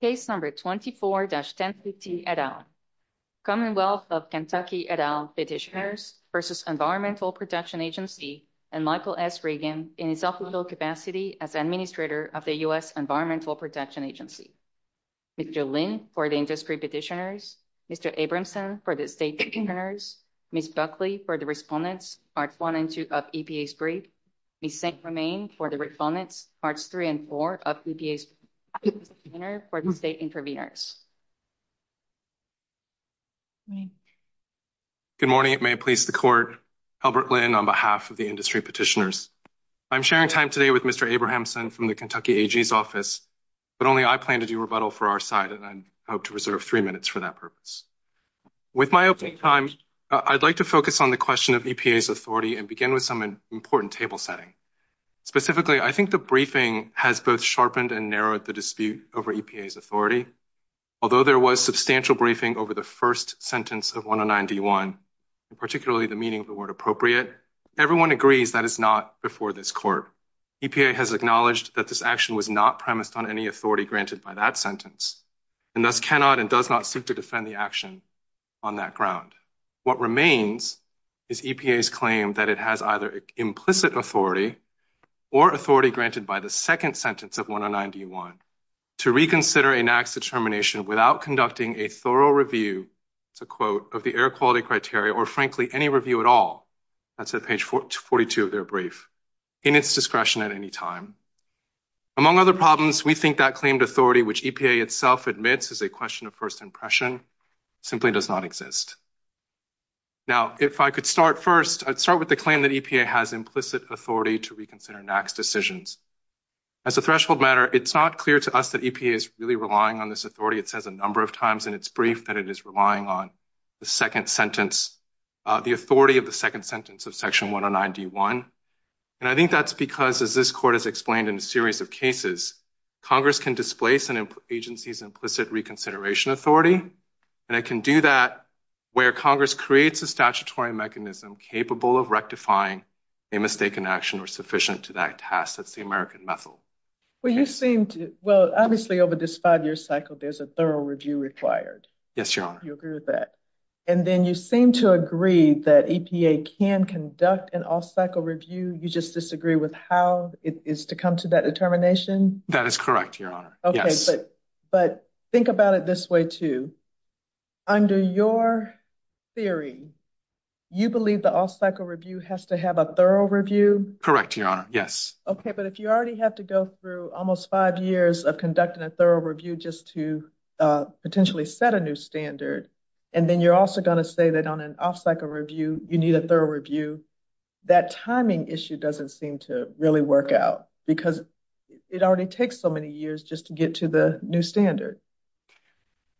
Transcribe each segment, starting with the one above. Case number 24-1050 et al. Commonwealth of Kentucky et al petitioners v. Environmental Protection Agency and Michael S. Reagan in his official capacity as administrator of the U. S. Environmental Protection Agency. Mr. Lynn for the industry petitioners, Mr. Abramson for the state petitioners, Ms. Buckley for the respondents, part 1 and 2 of EPA's brief. And Ms. Saint-Romain for the respondents, parts 3 and 4 of EPA's brief for state interveners. Good morning. It may please the court. Albert Lynn on behalf of the industry petitioners. I'm sharing time today with Mr. Abramson from the Kentucky AG's office, but only I plan to do rebuttal for our side and I hope to reserve three minutes for that purpose. With my opening time, I'd like to focus on the question of EPA's authority and begin with some important table setting. Specifically, I think the briefing has both sharpened and narrowed the dispute over EPA's authority. Although there was substantial briefing over the first sentence of 109-D1, particularly the meaning of the word appropriate, everyone agrees that is not before this court. EPA has acknowledged that this action was not premised on any authority granted by that sentence and thus cannot and does not seek to defend the action on that ground. What remains is EPA's claim that it has either implicit authority or authority granted by the second sentence of 109-D1 to reconsider a NAAQS determination without conducting a thorough review, to quote, of the air quality criteria or frankly any review at all. That's at page 42 of their brief, in its discretion at any time. Among other problems, we think that claimed authority, which EPA itself admits is a question of first impression, simply does not exist. Now, if I could start first, I'd start with the claim that EPA has implicit authority to reconsider NAAQS decisions. As a threshold matter, it's not clear to us that EPA is really relying on this authority. It says a number of times in its brief that it is relying on the second sentence, the authority of the second sentence of section 109-D1. And I think that's because, as this court has explained in a series of cases, Congress can displace an agency's implicit reconsideration authority. And it can do that where Congress creates a statutory mechanism capable of rectifying a mistaken action or sufficient to that task. That's the American method. Well, you seem to, well, obviously over this five-year cycle, there's a thorough review required. Yes, Your Honor. You agree with that. And then you seem to agree that EPA can conduct an off-cycle review. You just disagree with how it is to come to that determination? That is correct, Your Honor. Okay. But think about it this way, too. Under your theory, you believe the off-cycle review has to have a thorough review? Correct, Your Honor. Yes. Okay. But if you already have to go through almost five years of conducting a thorough review just to potentially set a new standard, and then you're also going to say that on an off-cycle review you need a thorough review, that timing issue doesn't seem to really work out because it already takes so many years just to get to the new standard.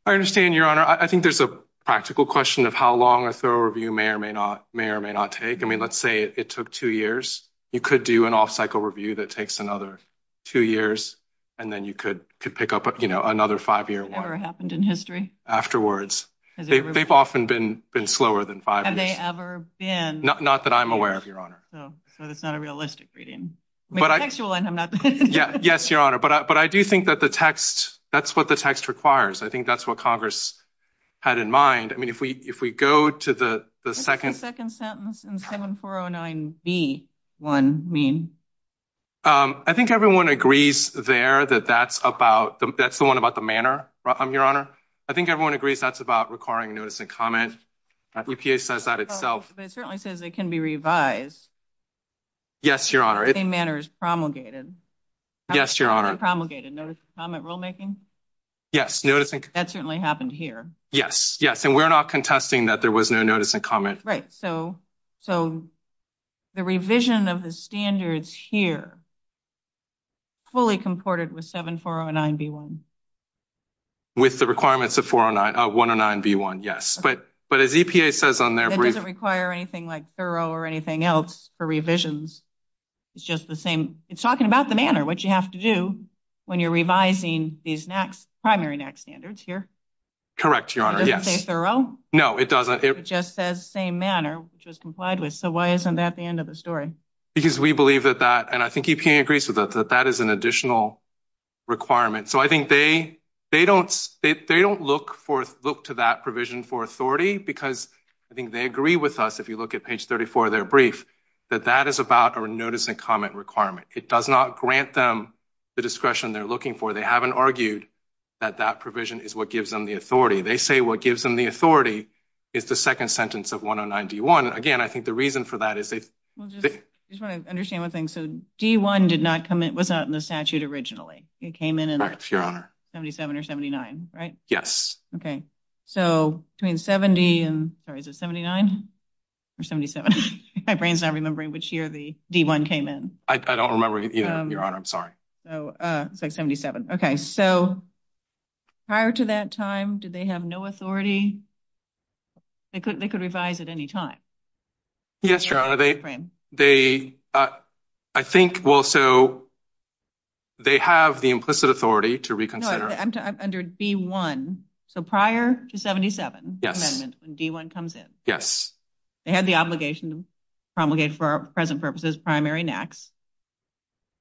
I understand, Your Honor. I think there's a practical question of how long a thorough review may or may not take. I mean, let's say it took two years. You could do an off-cycle review that takes another two years, and then you could pick up another five-year one. Has that ever happened in history? Afterwards. They've often been slower than five years. Have they ever been? Not that I'm aware of, Your Honor. So it's not a realistic reading. Yes, Your Honor, but I do think that the text, that's what the text requires. I think that's what Congress had in mind. I mean, if we go to the second sentence. What does the second sentence in 7409B1 mean? I think everyone agrees there that that's the one about the manner, Your Honor. I think everyone agrees that's about requiring notice and comment. The EPA says that itself. It certainly says it can be revised. Yes, Your Honor. The same manner as promulgated. Yes, Your Honor. Promulgated notice and comment rulemaking. Yes. That certainly happened here. Yes, yes, and we're not contesting that there was no notice and comment. Right. So the revision of the standards here fully comported with 7409B1. With the requirements of 109B1, yes. But as EPA says on their brief. It doesn't require anything like thorough or anything else for revisions. It's just the same. It's talking about the manner, which you have to do when you're revising these primary NAC standards here. Correct, Your Honor. Does it say thorough? No, it doesn't. It just says same manner, which was complied with. So why isn't that the end of the story? Because we believe that that, and I think EPA agrees with that, that that is an additional requirement. So I think they don't look to that provision for authority because I think they agree with us. If you look at page 34 of their brief, that that is about a notice and comment requirement. It does not grant them the discretion they're looking for. They haven't argued that that provision is what gives them the authority. They say what gives them the authority is the second sentence of 109B1. Again, I think the reason for that is they – I just want to understand one thing. So D1 did not come without the statute originally. It came in in –– 77 or 79, right? Yes. Okay. So between 70 and – sorry, is it 79 or 77? My brain's not remembering which year the D1 came in. I don't remember either, Your Honor. I'm sorry. So it's like 77. Okay. So prior to that time, did they have no authority? They could revise at any time. Yes, Your Honor. They – I think – well, so they have the implicit authority to reconsider. No, under D1. So prior to 77 amendments when D1 comes in. Yes. They had the obligation to promulgate for present purposes primary and acts,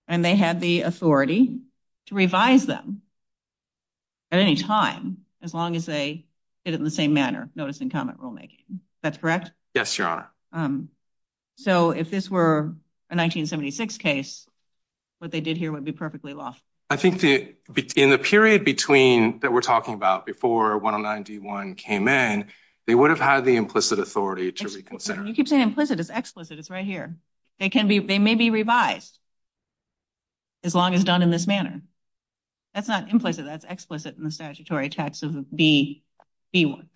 and they had the authority to revise them at any time as long as they did it in the same manner, notice and comment rulemaking. Is that correct? Yes, Your Honor. So if this were a 1976 case, what they did here would be perfectly law. I think the – in the period between – that we're talking about before 109-D1 came in, they would have had the implicit authority to reconsider. You keep saying implicit. It's explicit. It's right here. They can be – they may be revised as long as done in this manner. That's not implicit. That's explicit in the statutory text of B1. I'm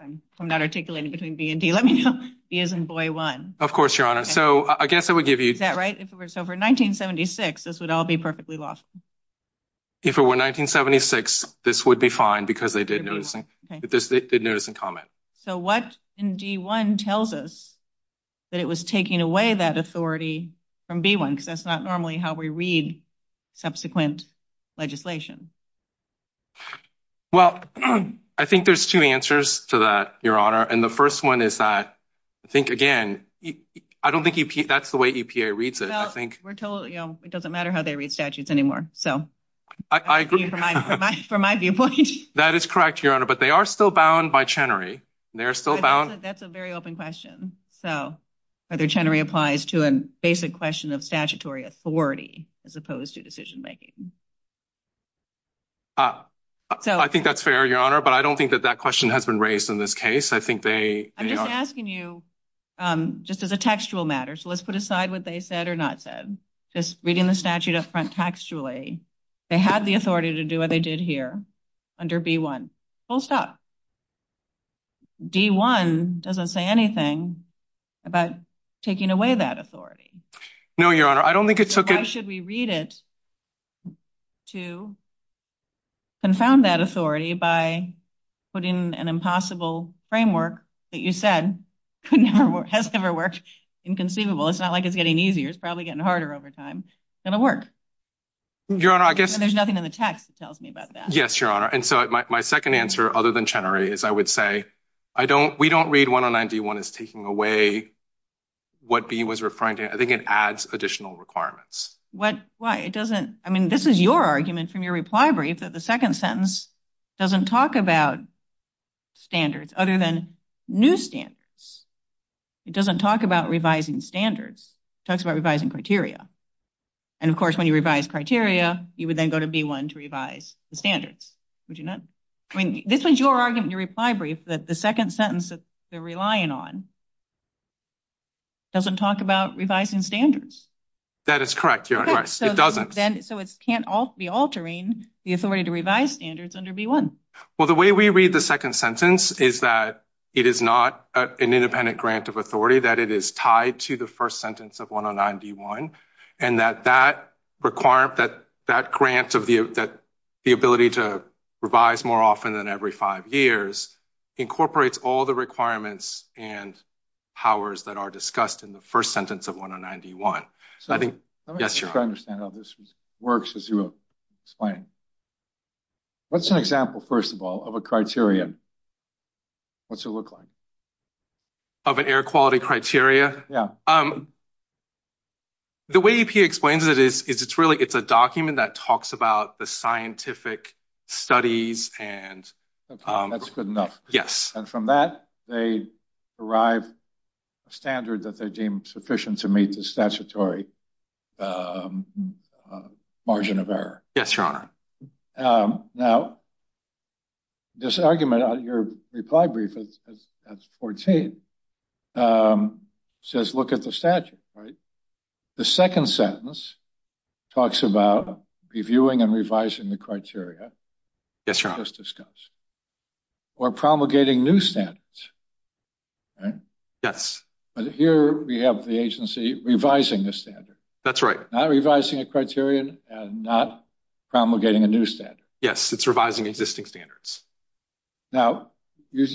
not articulating between B and D. Let me know. B as in boy one. Of course, Your Honor. So I guess I would give you – Is that right? So for 1976, this would all be perfectly law. If it were 1976, this would be fine because they did notice and comment. So what in D1 tells us that it was taking away that authority from B1? Because that's not normally how we read subsequent legislation. Well, I think there's two answers to that, Your Honor. And the first one is that I think, again, I don't think that's the way EPA reads it, I think. Well, we're totally – you know, it doesn't matter how they read statutes anymore. So I agree from my viewpoint. That is correct, Your Honor. But they are still bound by Chenery. They're still bound – That's a very open question. So whether Chenery applies to a basic question of statutory authority as opposed to decision-making. I think that's fair, Your Honor. But I don't think that that question has been raised in this case. I think they – I'm just asking you just as a textual matter. So let's put aside what they said or not said. Just reading the statute up front textually, they had the authority to do what they did here under B1. Full stop. D1 doesn't say anything about taking away that authority. No, Your Honor. I don't think it took – If we read it to confound that authority by putting an impossible framework that you said has never worked, inconceivable. It's not like it's getting easier. It's probably getting harder over time. It's going to work. Your Honor, I guess – There's nothing in the text that tells me about that. Yes, Your Honor. And so my second answer, other than Chenery, is I would say we don't read 109-D1 as taking away what B1 is referring to. I think it adds additional requirements. Why? It doesn't – I mean, this is your argument from your reply brief that the second sentence doesn't talk about standards other than new standards. It doesn't talk about revising standards. It talks about revising criteria. And, of course, when you revise criteria, you would then go to B1 to revise the standards. Would you not? I mean, this is your argument in your reply brief that the second sentence that they're relying on doesn't talk about revising standards. That is correct, Your Honor. It doesn't. So it can't be altering the authority to revise standards under B1. Well, the way we read the second sentence is that it is not an independent grant of authority, that it is tied to the first sentence of 109-D1, and that that grant of the ability to revise more often than every five years incorporates all the requirements and powers that are discussed in the first sentence of 109-D1. So I think – Yes, Your Honor. Let me see if I understand how this works as you explain. What's an example, first of all, of a criterion? What's it look like? Of an air quality criteria? Yeah. The way he explains it is it's really – it's a document that talks about the scientific studies and – That's good enough. Yes. And from that, they derive a standard that they deem sufficient to meet the statutory margin of error. Yes, Your Honor. Now, this argument on your reply brief, that's 14, says look at the statute, right? The second sentence talks about reviewing and revising the criteria. Yes, Your Honor. As discussed. Or promulgating new standards, right? Yes. But here we have the agency revising the standard. That's right. Not revising a criterion and not promulgating a new standard. Yes, it's revising existing standards. Now, you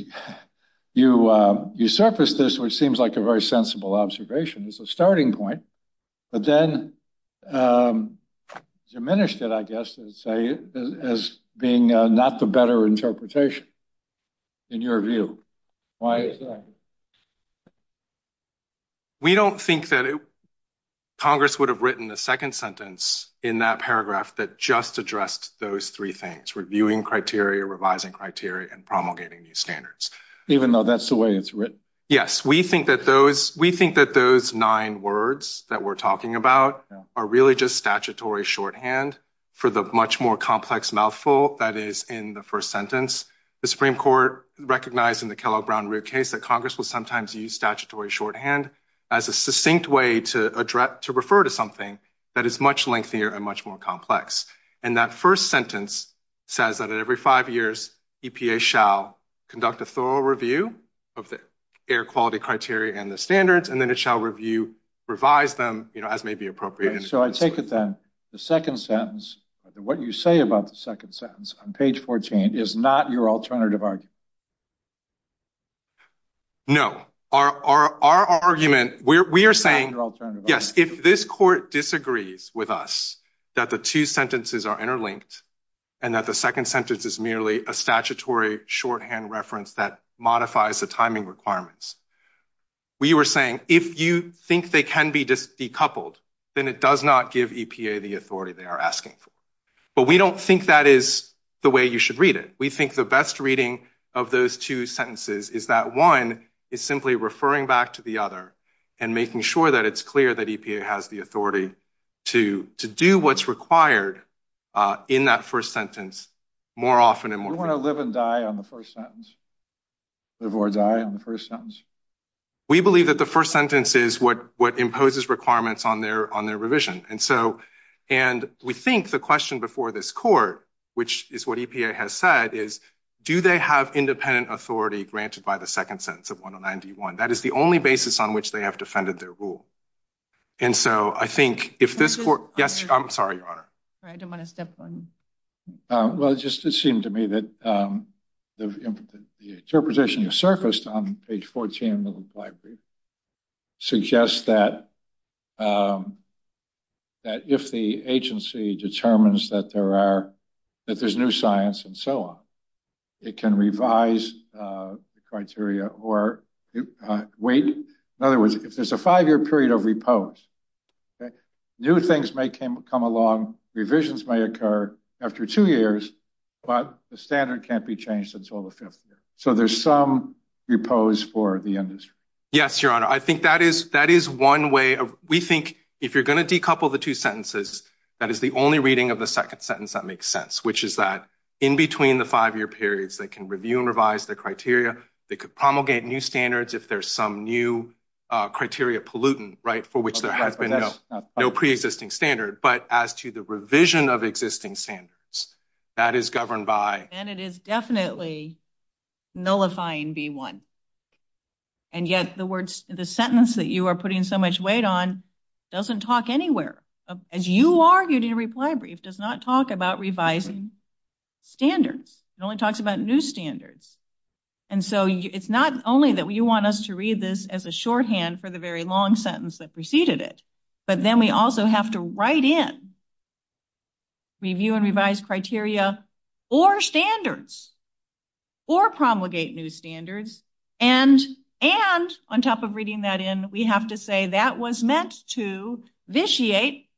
surfaced this, which seems like a very sensible observation as a starting point, but then diminished it, I guess, as being not the better interpretation in your view. Why is that? We don't think that Congress would have written the second sentence in that paragraph that just addressed those three things, reviewing criteria, revising criteria, and promulgating new standards. Even though that's the way it's written? Yes. We think that those – we think that those nine words that we're talking about are really just statutory shorthand for the much more complex mouthful that is in the first sentence. The Supreme Court recognized in the Kellogg-Brown case that Congress will sometimes use statutory shorthand as a succinct way to refer to something that is much lengthier and much more complex. And that first sentence says that at every five years, EPA shall conduct a thorough review of the air quality criteria and the standards, and then it shall review, revise them as may be appropriate. So I take it then, the second sentence, what you say about the second sentence on page 14 is not your alternative argument? No. Our argument – we are saying – Yes, if this court disagrees with us that the two sentences are interlinked and that the second sentence is merely a statutory shorthand reference that modifies the timing requirements, we were saying, if you think they can be decoupled, then it does not give EPA the authority they are asking for. But we do not think that is the way you should read it. We think the best reading of those two sentences is that one is simply referring back to the other and making sure that it is clear that EPA has the authority to do what is required in that first sentence more often. Do you want to live and die on the first sentence? Live or die on the first sentence? We believe that the first sentence is what imposes requirements on their revision. And we think the question before this court, which is what EPA has said, is do they have independent authority granted by the second sentence of 109D1? That is the only basis on which they have defended their rule. And so I think if this court – I'm sorry, Your Honor. I didn't want to step on you. Well, it just seemed to me that the interpretation that surfaced on page 14 of the flag brief suggests that if the agency determines that there's new science and so on, it can revise the criteria or wait. In other words, if there's a five-year period of repose, new things may come along, revisions may occur after two years, but the standard can't be changed until the fifth year. So there's some repose for the industry. Yes, Your Honor. I think that is one way. We think if you're going to decouple the two sentences, that is the only reading of the second sentence that makes sense, which is that in between the five-year periods, they can review and revise the criteria. They could promulgate new standards if there's some new criteria pollutant, right, for which there has been no preexisting standard. But as to the revision of existing standards, that is governed by – And it is definitely nullifying D1. And yet the sentence that you are putting so much weight on doesn't talk anywhere. As you argued in reply brief, it does not talk about revising standards. It only talks about new standards. And so it's not only that you want us to read this as a shorthand for the very long sentence that preceded it, but then we also have to write in review and revise criteria or standards or promulgate new standards. And on top of reading that in, we have to say that was meant to vitiate,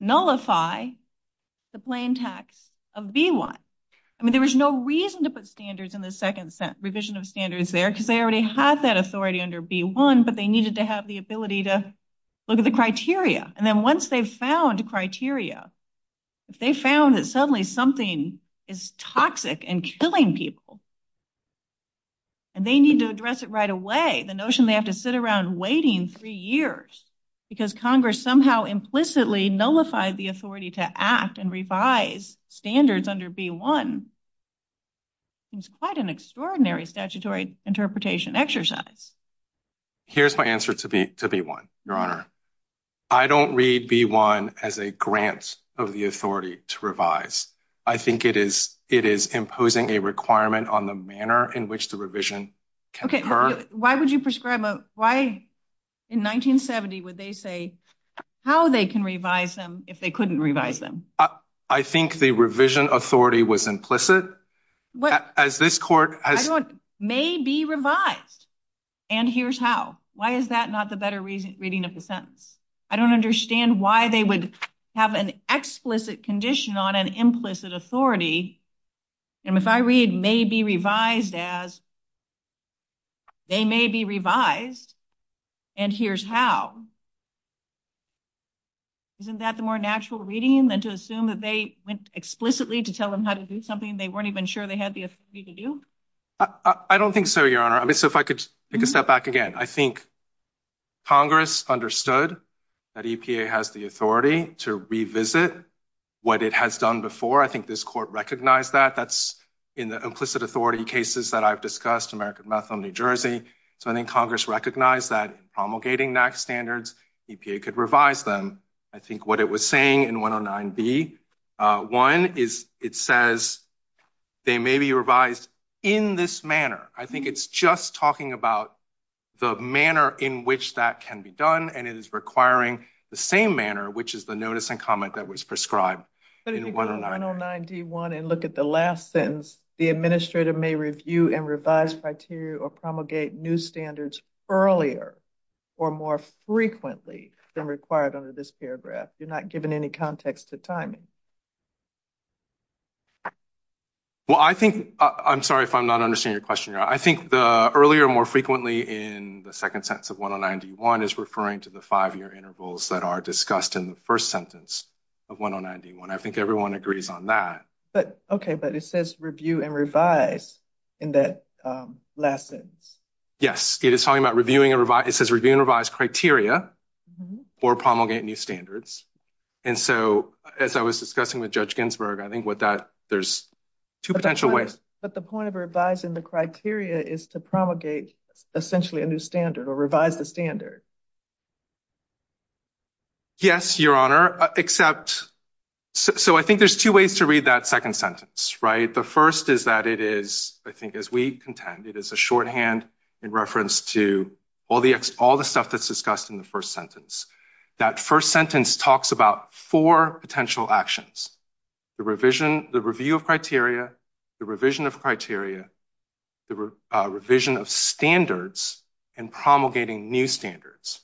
nullify the plain text of B1. I mean, there was no reason to put standards in the second revision of standards there because they already had that authority under B1, but they needed to have the ability to look at the criteria. And then once they found criteria, if they found that suddenly something is toxic and killing people, and they need to address it right away, the notion they have to sit around waiting three years because Congress somehow implicitly nullifies the authority to act and revise standards under B1 is quite an extraordinary statutory interpretation exercise. Here's my answer to B1, Your Honor. I don't read B1 as a grant of the authority to revise. I think it is imposing a requirement on the manner in which the revision can occur. Okay, why would you prescribe, why in 1970 would they say how they can revise them if they couldn't revise them? I think the revision authority was implicit. I don't, may be revised, and here's how. Why is that not the better reading of the sentence? I don't understand why they would have an explicit condition on an implicit authority, and if I read may be revised as they may be revised, and here's how. Isn't that the more natural reading than to assume that they went explicitly to tell them how to do something they weren't even sure they had the authority to do? I don't think so, Your Honor. I mean, so if I could take a step back again. I think Congress understood that EPA has the authority to revisit what it has done before. I think this court recognized that. That's in the implicit authority cases that I've discussed, American Methil, New Jersey. So I think Congress recognized that promulgating that standard, EPA could revise them. I think what it was saying in 109B, one is it says they may be revised in this manner. I think it's just talking about the manner in which that can be done, and it is requiring the same manner, which is the notice and comment that was prescribed in 109B. If you look at the last sentence, the administrator may review and revise criteria or promulgate new standards earlier or more frequently than required under this paragraph. You're not giving any context to timing. Well, I think – I'm sorry if I'm not understanding your question, Your Honor. I think the earlier, more frequently in the second sentence of 109D1 is referring to the five-year intervals that are discussed in the first sentence of 109D1. I think everyone agrees on that. Okay, but it says review and revise in the last sentence. Yes, it is talking about reviewing and revise. It says review and revise criteria or promulgate new standards. And so as I was discussing with Judge Ginsburg, I think with that there's two potential ways. But the point of revising the criteria is to promulgate essentially a new standard or revise the standard. Yes, Your Honor, except – so I think there's two ways to read that second sentence, right? The first is that it is, I think as we intend, it is a shorthand in reference to all the stuff that's discussed in the first sentence. That first sentence talks about four potential actions. The revision – the review of criteria, the revision of criteria, the revision of standards, and promulgating new standards.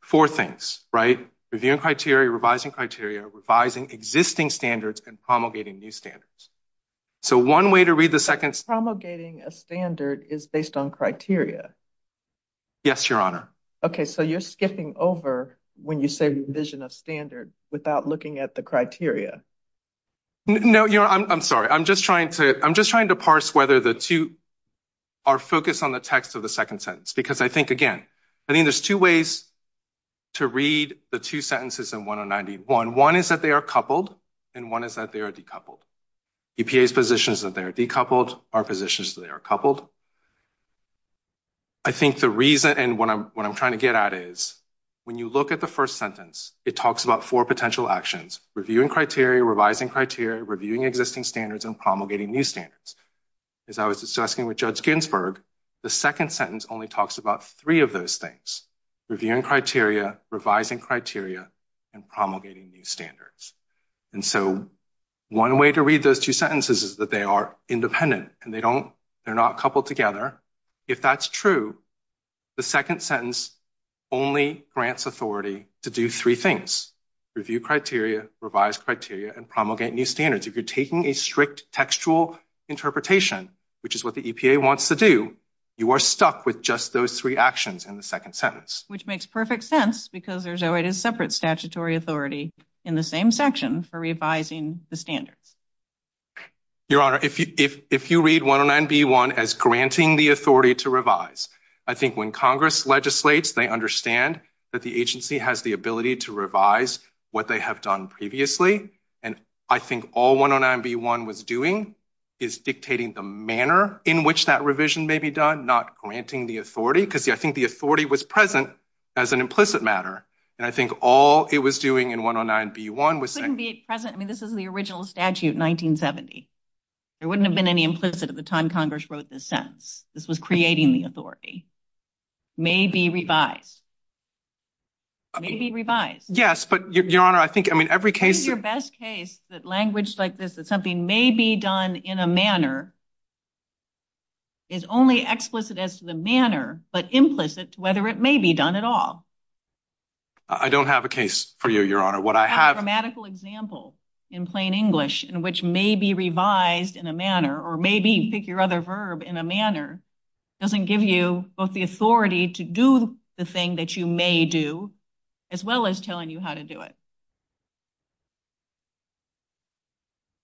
Four things, right? Reviewing criteria, revising criteria, revising existing standards, and promulgating new standards. So one way to read the second – Promulgating a standard is based on criteria. Yes, Your Honor. Okay, so you're skipping over when you say revision of standard without looking at the criteria. No, Your Honor, I'm sorry. I'm just trying to parse whether the two are focused on the text of the second sentence. Because I think, again, I think there's two ways to read the two sentences in 1091. One is that they are coupled, and one is that they are decoupled. EPA's position is that they are decoupled. Our position is that they are coupled. I think the reason – and what I'm trying to get at is when you look at the first sentence, it talks about four potential actions. Reviewing criteria, revising criteria, reviewing existing standards, and promulgating new standards. As I was discussing with Judge Ginsburg, the second sentence only talks about three of those things. Reviewing criteria, revising criteria, and promulgating new standards. And so one way to read those two sentences is that they are independent. And they don't – they're not coupled together. If that's true, the second sentence only grants authority to do three things. Review criteria, revise criteria, and promulgate new standards. If you're taking a strict textual interpretation, which is what the EPA wants to do, you are stuck with just those three actions in the second sentence. Which makes perfect sense because there's already a separate statutory authority in the same section for revising the standards. Your Honor, if you read 109B1 as granting the authority to revise, I think when Congress legislates, they understand that the agency has the ability to revise what they have done previously. And I think all 109B1 was doing is dictating the manner in which that revision may be done, not granting the authority. Because I think the authority was present as an implicit matter. And I think all it was doing in 109B1 was – It shouldn't be present. I mean, this is the original statute, 1970. There wouldn't have been any implicit at the time Congress wrote this sentence. This was creating the authority. May be revised. Yes, but, Your Honor, I think – I mean, every case – It's your best case that language like this, that something may be done in a manner, is only explicit as to the manner, but implicit to whether it may be done at all. I don't have a case for you, Your Honor. What I have – A grammatical example in plain English in which may be revised in a manner, or may be, pick your other verb, in a manner, doesn't give you both the authority to do the thing that you may do, as well as telling you how to do it.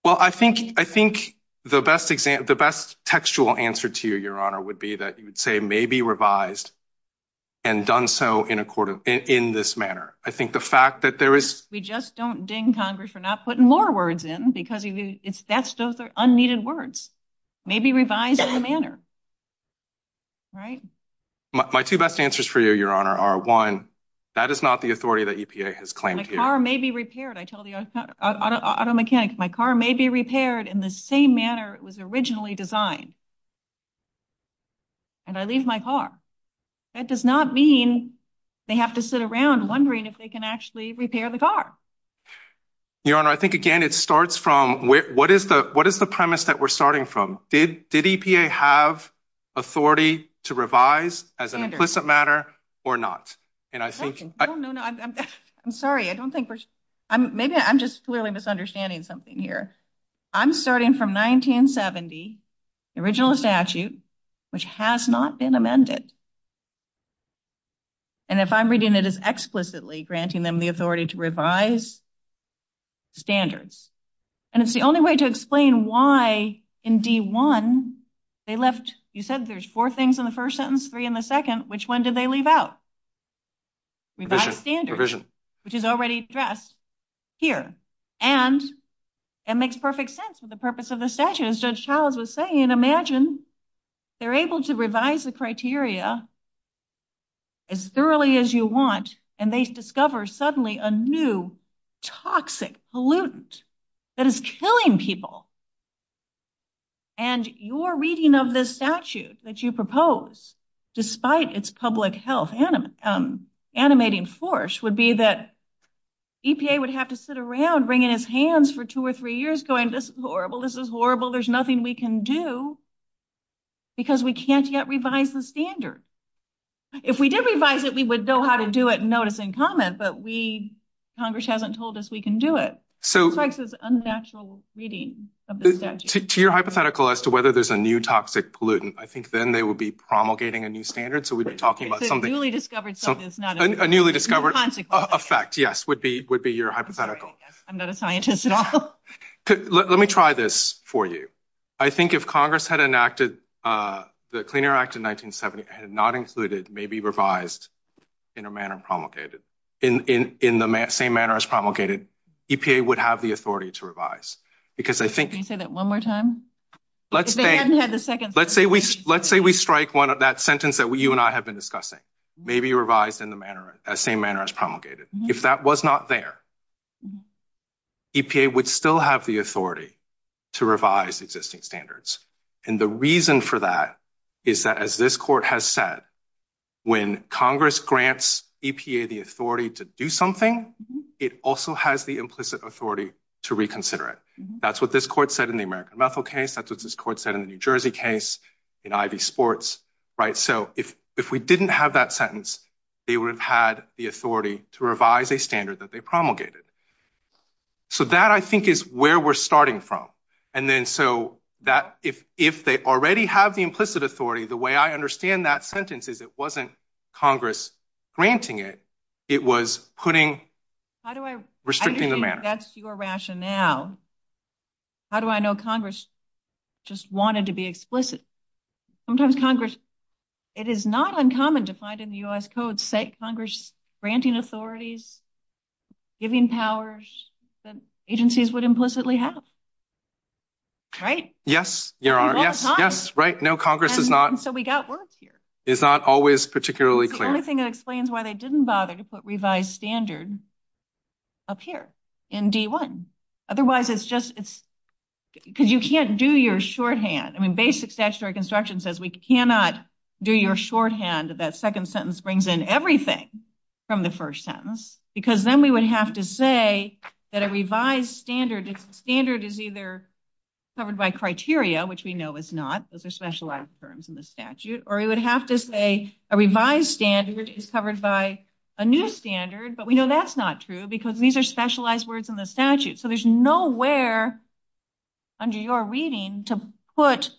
Well, I think the best textual answer to you, Your Honor, would be that you would say may be revised and done so in this manner. I think the fact that there is – We just don't ding Congress for not putting more words in, because that's just unneeded words. May be revised in a manner. Right? My two best answers for you, Your Honor, are one, that is not the authority that EPA has claimed here. My car may be repaired. I tell the auto mechanics, my car may be repaired in the same manner it was originally designed. And I leave my car. That does not mean they have to sit around wondering if they can actually repair the car. Your Honor, I think, again, it starts from what is the premise that we're starting from? Did EPA have authority to revise as an implicit matter or not? And I think – No, no, no. I'm sorry. I don't think we're – Maybe I'm just clearly misunderstanding something here. I'm starting from 1970, the original statute, which has not been amended. And if I'm reading it as explicitly granting them the authority to revise standards. And it's the only way to explain why in D1 they left – You said there's four things in the first sentence, three in the second. Which one did they leave out? Revision. Which is already addressed here. And it makes perfect sense for the purpose of the statute. As Judge Childs was saying, imagine they're able to revise the criteria as thoroughly as you want, and they discover suddenly a new toxic pollutant that is killing people. And your reading of this statute that you propose, despite its public health animating force, would be that EPA would have to sit around, wringing its hands for two or three years, going, this is horrible, this is horrible, there's nothing we can do, because we can't yet revise the standard. If we did revise it, we would know how to do it and notice and comment, but Congress hasn't told us we can do it. So – It's an unnatural reading of the statute. To your hypothetical as to whether there's a new toxic pollutant, I think then they would be promulgating a new standard, so we'd be talking about something – A fact, yes, would be your hypothetical. I'm not a scientist at all. Let me try this for you. I think if Congress had enacted the Clean Air Act of 1970 had not included maybe revised in a manner promulgated, in the same manner as promulgated, EPA would have the authority to revise. Because I think – Can you say that one more time? Let's say we strike one of that sentence that you and I have been discussing. Maybe revised in the same manner as promulgated. If that was not there, EPA would still have the authority to revise existing standards. And the reason for that is that, as this court has said, when Congress grants EPA the authority to do something, it also has the implicit authority to reconsider it. That's what this court said in the American Methil case. That's what this court said in the New Jersey case, in Ivy Sports. So if we didn't have that sentence, they would have had the authority to revise a standard that they promulgated. So that, I think, is where we're starting from. And then so if they already have the implicit authority, the way I understand that sentence is it wasn't Congress granting it. It was putting – restricting the manner. I think that's your rationale. How do I know Congress just wanted to be explicit? Sometimes Congress – it is not uncommon to find in the U.S. Codes, say, Congress granting authorities, giving powers that agencies would implicitly have. Right? Yes, there are. No, it's not. Yes, right. No, Congress is not. And so we got work here. It's not always particularly clear. The only thing that explains why they didn't bother to put revised standard up here in D1. Otherwise, it's just – because you can't do your shorthand. I mean, basic statutory construction says we cannot do your shorthand. That second sentence brings in everything from the first sentence. Because then we would have to say that a revised standard is either covered by criteria, which we know it's not. Those are specialized terms in the statute. Or we would have to say a revised standard is covered by a new standard, but we know that's not true because these are specialized words in the statute. So there's nowhere under your reading to put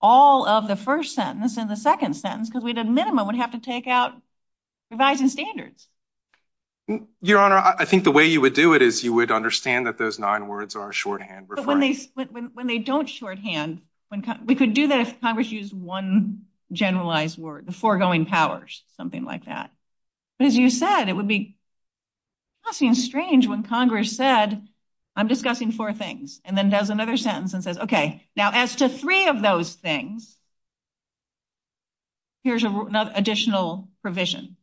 all of the first sentence in the second sentence because we did a minimum. We'd have to take out revised standards. Your Honor, I think the way you would do it is you would understand that those nine words are shorthand. But when they don't shorthand, we could do that if Congress used one generalized word, the foregoing powers, something like that. As you said, it would be – it would seem strange when Congress said, I'm discussing four things, and then does another sentence and says, okay. Now, as to three of those things, here's an additional provision.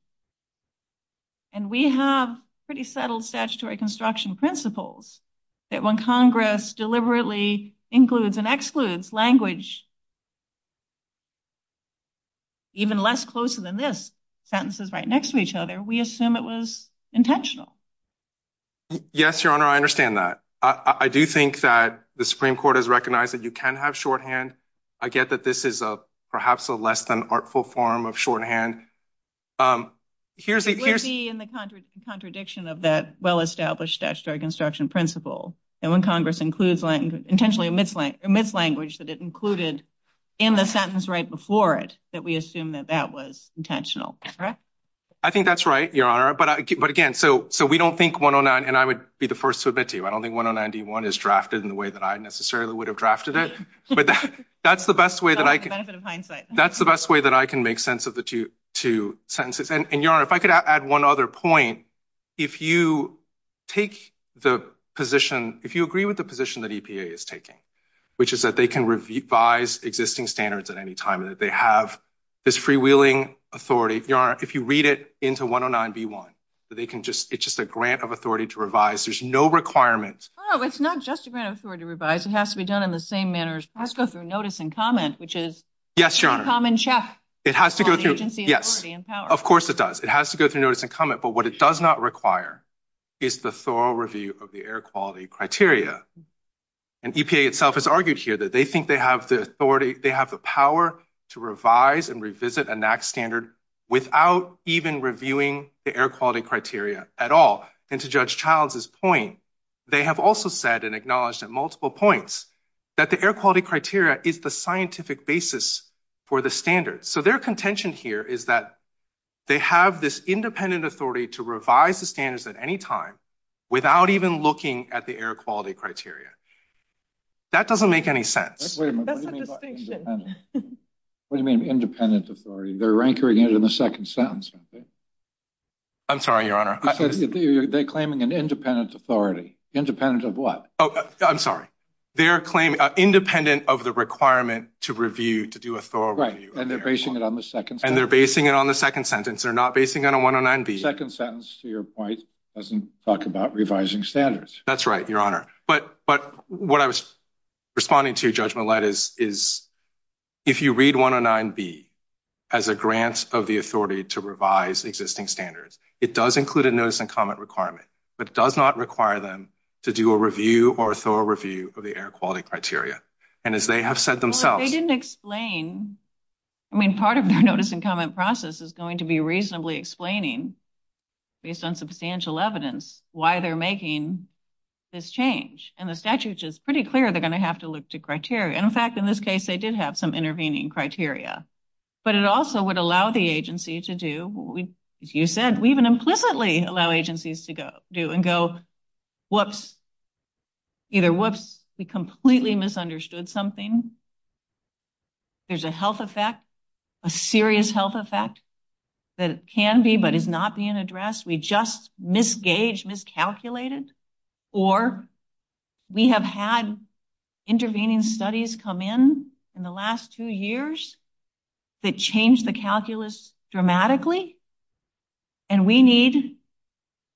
And we have pretty settled statutory construction principles that when Congress deliberately includes and excludes language even less close than this, sentences right next to each other, we assume it was intentional. Yes, Your Honor, I understand that. I do think that the Supreme Court has recognized that you can have shorthand. I get that this is perhaps a less than artful form of shorthand. It would be in the contradiction of that well-established statutory construction principle. And when Congress intentionally omits language that it included in the sentence right before it, that we assume that that was intentional, correct? I think that's right, Your Honor. But again, so we don't think – and I would be the first to admit to you, I don't think 1091 is drafted in the way that I necessarily would have drafted it. But that's the best way that I can make sense of the two sentences. And, Your Honor, if I could add one other point. If you take the position – if you agree with the position that EPA is taking, which is that they can revise existing standards at any time and that they have this freewheeling authority, Your Honor, if you read it into 109B1, it's just a grant of authority to revise. There's no requirement. Oh, it's not just a grant of authority to revise. It has to be done in the same manner. It has to go through notice and comment, which is – Yes, Your Honor. It has to go through – yes. Of course it does. It has to go through notice and comment. But what it does not require is the thorough review of the air quality criteria. And EPA itself has argued here that they think they have the authority – they have the power to revise and revisit a NAAQS standard without even reviewing the air quality criteria at all. And to Judge Childs' point, they have also said and acknowledged at multiple points that the air quality criteria is the scientific basis for the standards. So their contention here is that they have this independent authority to revise the standards at any time without even looking at the air quality criteria. That doesn't make any sense. That's a distinction. What do you mean independent authority? They're anchoring it in the second sentence. I'm sorry, Your Honor. They're claiming an independent authority. Independent of what? I'm sorry. They're claiming independent of the requirement to review, to do a thorough review. And they're basing it on the second sentence. And they're basing it on the second sentence. They're not basing it on 109B. The second sentence, to your point, doesn't talk about revising standards. That's right, Your Honor. But what I was responding to, Judge Millett, is if you read 109B as a grant of the authority to revise existing standards, it does include a notice and comment requirement. But it does not require them to do a review or a thorough review of the air quality criteria. And as they have said themselves... Well, they didn't explain. I mean, part of their notice and comment process is going to be reasonably explaining, based on substantial evidence, why they're making this change. And the statute is pretty clear they're going to have to look to criteria. In fact, in this case, they did have some intervening criteria. But it also would allow the agency to do, as you said, we even implicitly allow agencies to go, whoops, either whoops, we completely misunderstood something, there's a health effect, a serious health effect that can be but is not being addressed, we just misgaged, miscalculated, or we have had intervening studies come in, in the last two years, that changed the calculus dramatically. And we need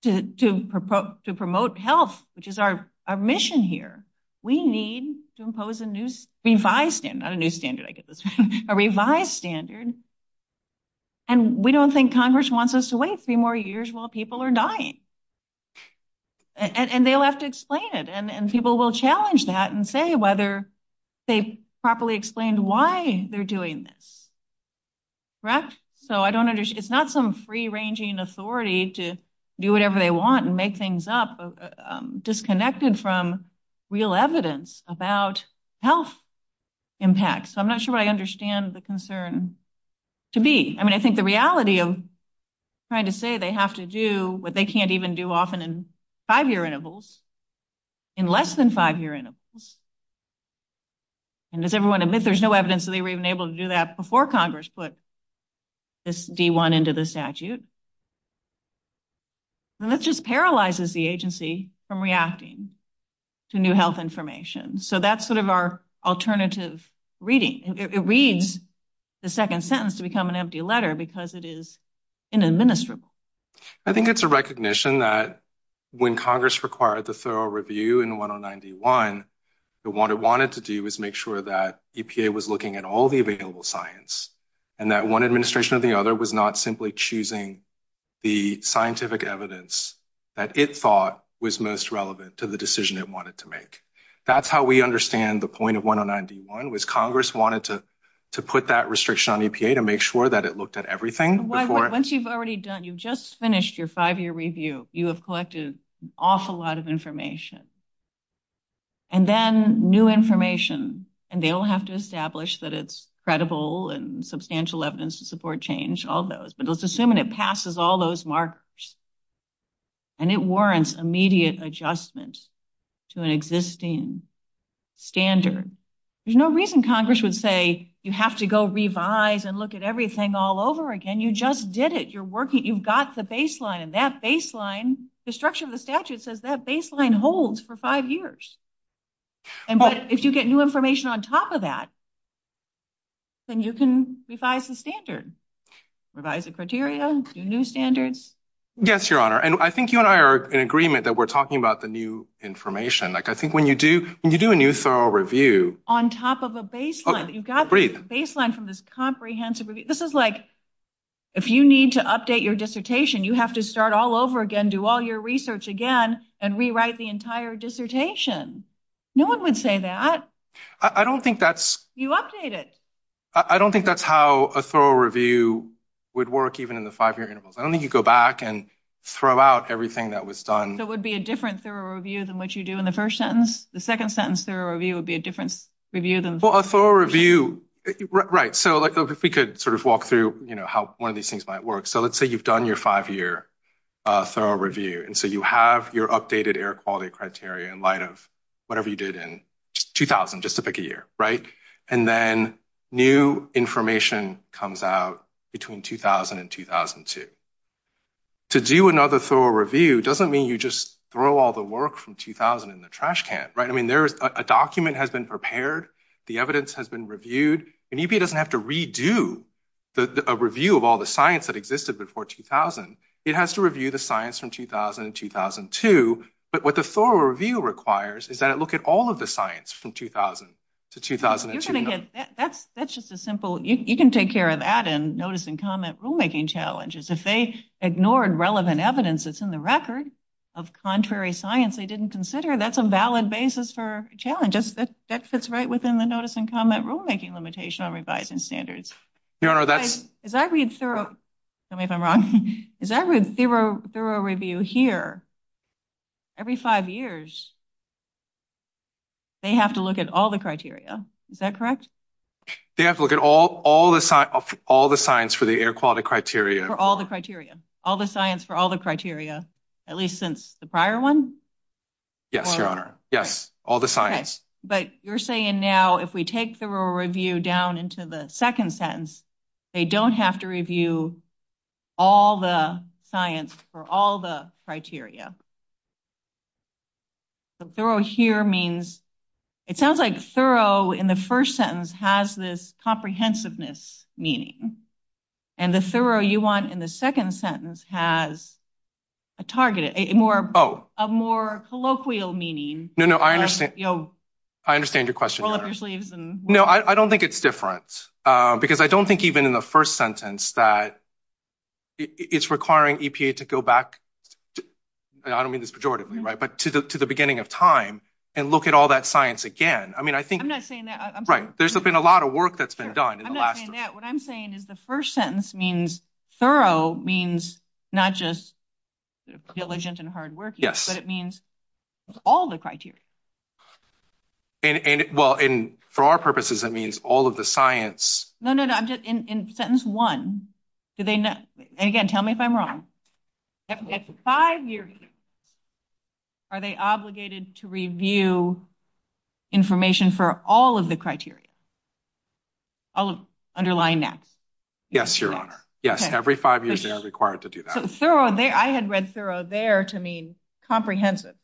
to promote health, which is our mission here. We need to impose a revised standard, not a new standard, I guess, a revised standard. And we don't think Congress wants us to wait three more years while people are dying. And they'll have to explain it. And people will challenge that and say whether they properly explained why they're doing this. Correct? So I don't understand. It's not some free-ranging authority to do whatever they want and make things up, disconnected from real evidence about health impacts. So I'm not sure I understand the concern to be. I mean, I think the reality of trying to say they have to do what they can't even do often in five-year intervals, in less than five-year intervals, and does everyone admit there's no evidence that they were even able to do that before Congress put this D-1 into the statute? And that just paralyzes the agency from reacting to new health information. So that's sort of our alternative reading. It reads the second sentence to become an empty letter because it is inadministrable. I think it's a recognition that when Congress required the thorough review in 1091, what it wanted to do was make sure that EPA was looking at all the available science and that one administration or the other was not simply choosing the scientific evidence that it thought was most relevant to the decision it wanted to make. That's how we understand the point of 1091 was Congress wanted to put that restriction on EPA to make sure that it looked at everything before. Once you've already done, you've just finished your five-year review. You have collected an awful lot of information. And then new information, and they all have to establish that it's credible and substantial evidence to support change, all those. But let's assume it passes all those markers. And it warrants immediate adjustment to an existing standard. There's no reason Congress would say you have to go revise and look at everything all over again. You just did it. You're working. You've got the baseline. And that baseline, the structure of the statute says that baseline holds for five years. But if you get new information on top of that, then you can revise the standard, revise the criteria, new standards. Yes, Your Honor. And I think you and I are in agreement that we're talking about the new information. I think when you do a new thorough review. On top of a baseline. You've got the baseline from this comprehensive review. This is like if you need to update your dissertation, you have to start all over again, do all your research again, and rewrite the entire dissertation. No one would say that. I don't think that's. You update it. I don't think that's how a thorough review would work, even in the five-year interval. I don't think you go back and throw out everything that was done. That would be a different thorough review than what you do in the first sentence. The second sentence thorough review would be a different review than. A thorough review. Right. So if we could sort of walk through how one of these things might work. So let's say you've done your five-year thorough review. And so you have your updated air quality criteria in light of whatever you did in 2000, just to pick a year. Right. And then new information comes out between 2000 and 2002. To do another thorough review doesn't mean you just throw all the work from 2000 in the trash can. Right. I mean, there's a document has been prepared. The evidence has been reviewed. And EPA doesn't have to redo a review of all the science that existed before 2000. It has to review the science from 2000 to 2002. But what the thorough review requires is that it look at all of the science from 2000 to 2002. That's just as simple. You can take care of that in notice and comment rulemaking challenges. If they ignored relevant evidence that's in the record of contrary science they didn't consider, that's a valid basis for challenges. That fits right within the notice and comment rulemaking limitation on revised standards. Your Honor, that's. As I read thorough review here, every five years, they have to look at all the criteria. Is that correct? They have to look at all the science for the air quality criteria. For all the criteria. All the science for all the criteria. At least since the prior one? Yes, Your Honor. Yes. All the science. Yes. But you're saying now if we take thorough review down into the second sentence, they don't have to review all the science for all the criteria. So thorough here means, it sounds like thorough in the first sentence has this comprehensiveness meaning. And the thorough you want in the second sentence has a target, a more colloquial meaning. No, no, I understand. I understand your question, Your Honor. No, I don't think it's different. Because I don't think even in the first sentence that it's requiring EPA to go back, I don't mean this pejoratively, right, but to the beginning of time and look at all that science again. I mean, I think. Right. There's been a lot of work that's been done. I'm not saying that. What I'm saying is the first sentence means thorough means not just diligent and hardworking. But it means all the criteria. And, well, for our purposes, it means all of the science. No, no, no. In sentence one, again, tell me if I'm wrong. At five years, are they obligated to review information for all of the criteria, all of underlying NACs? Yes, Your Honor. Yes, every five years they are required to do that. So thorough there. I had read thorough there to mean comprehensive.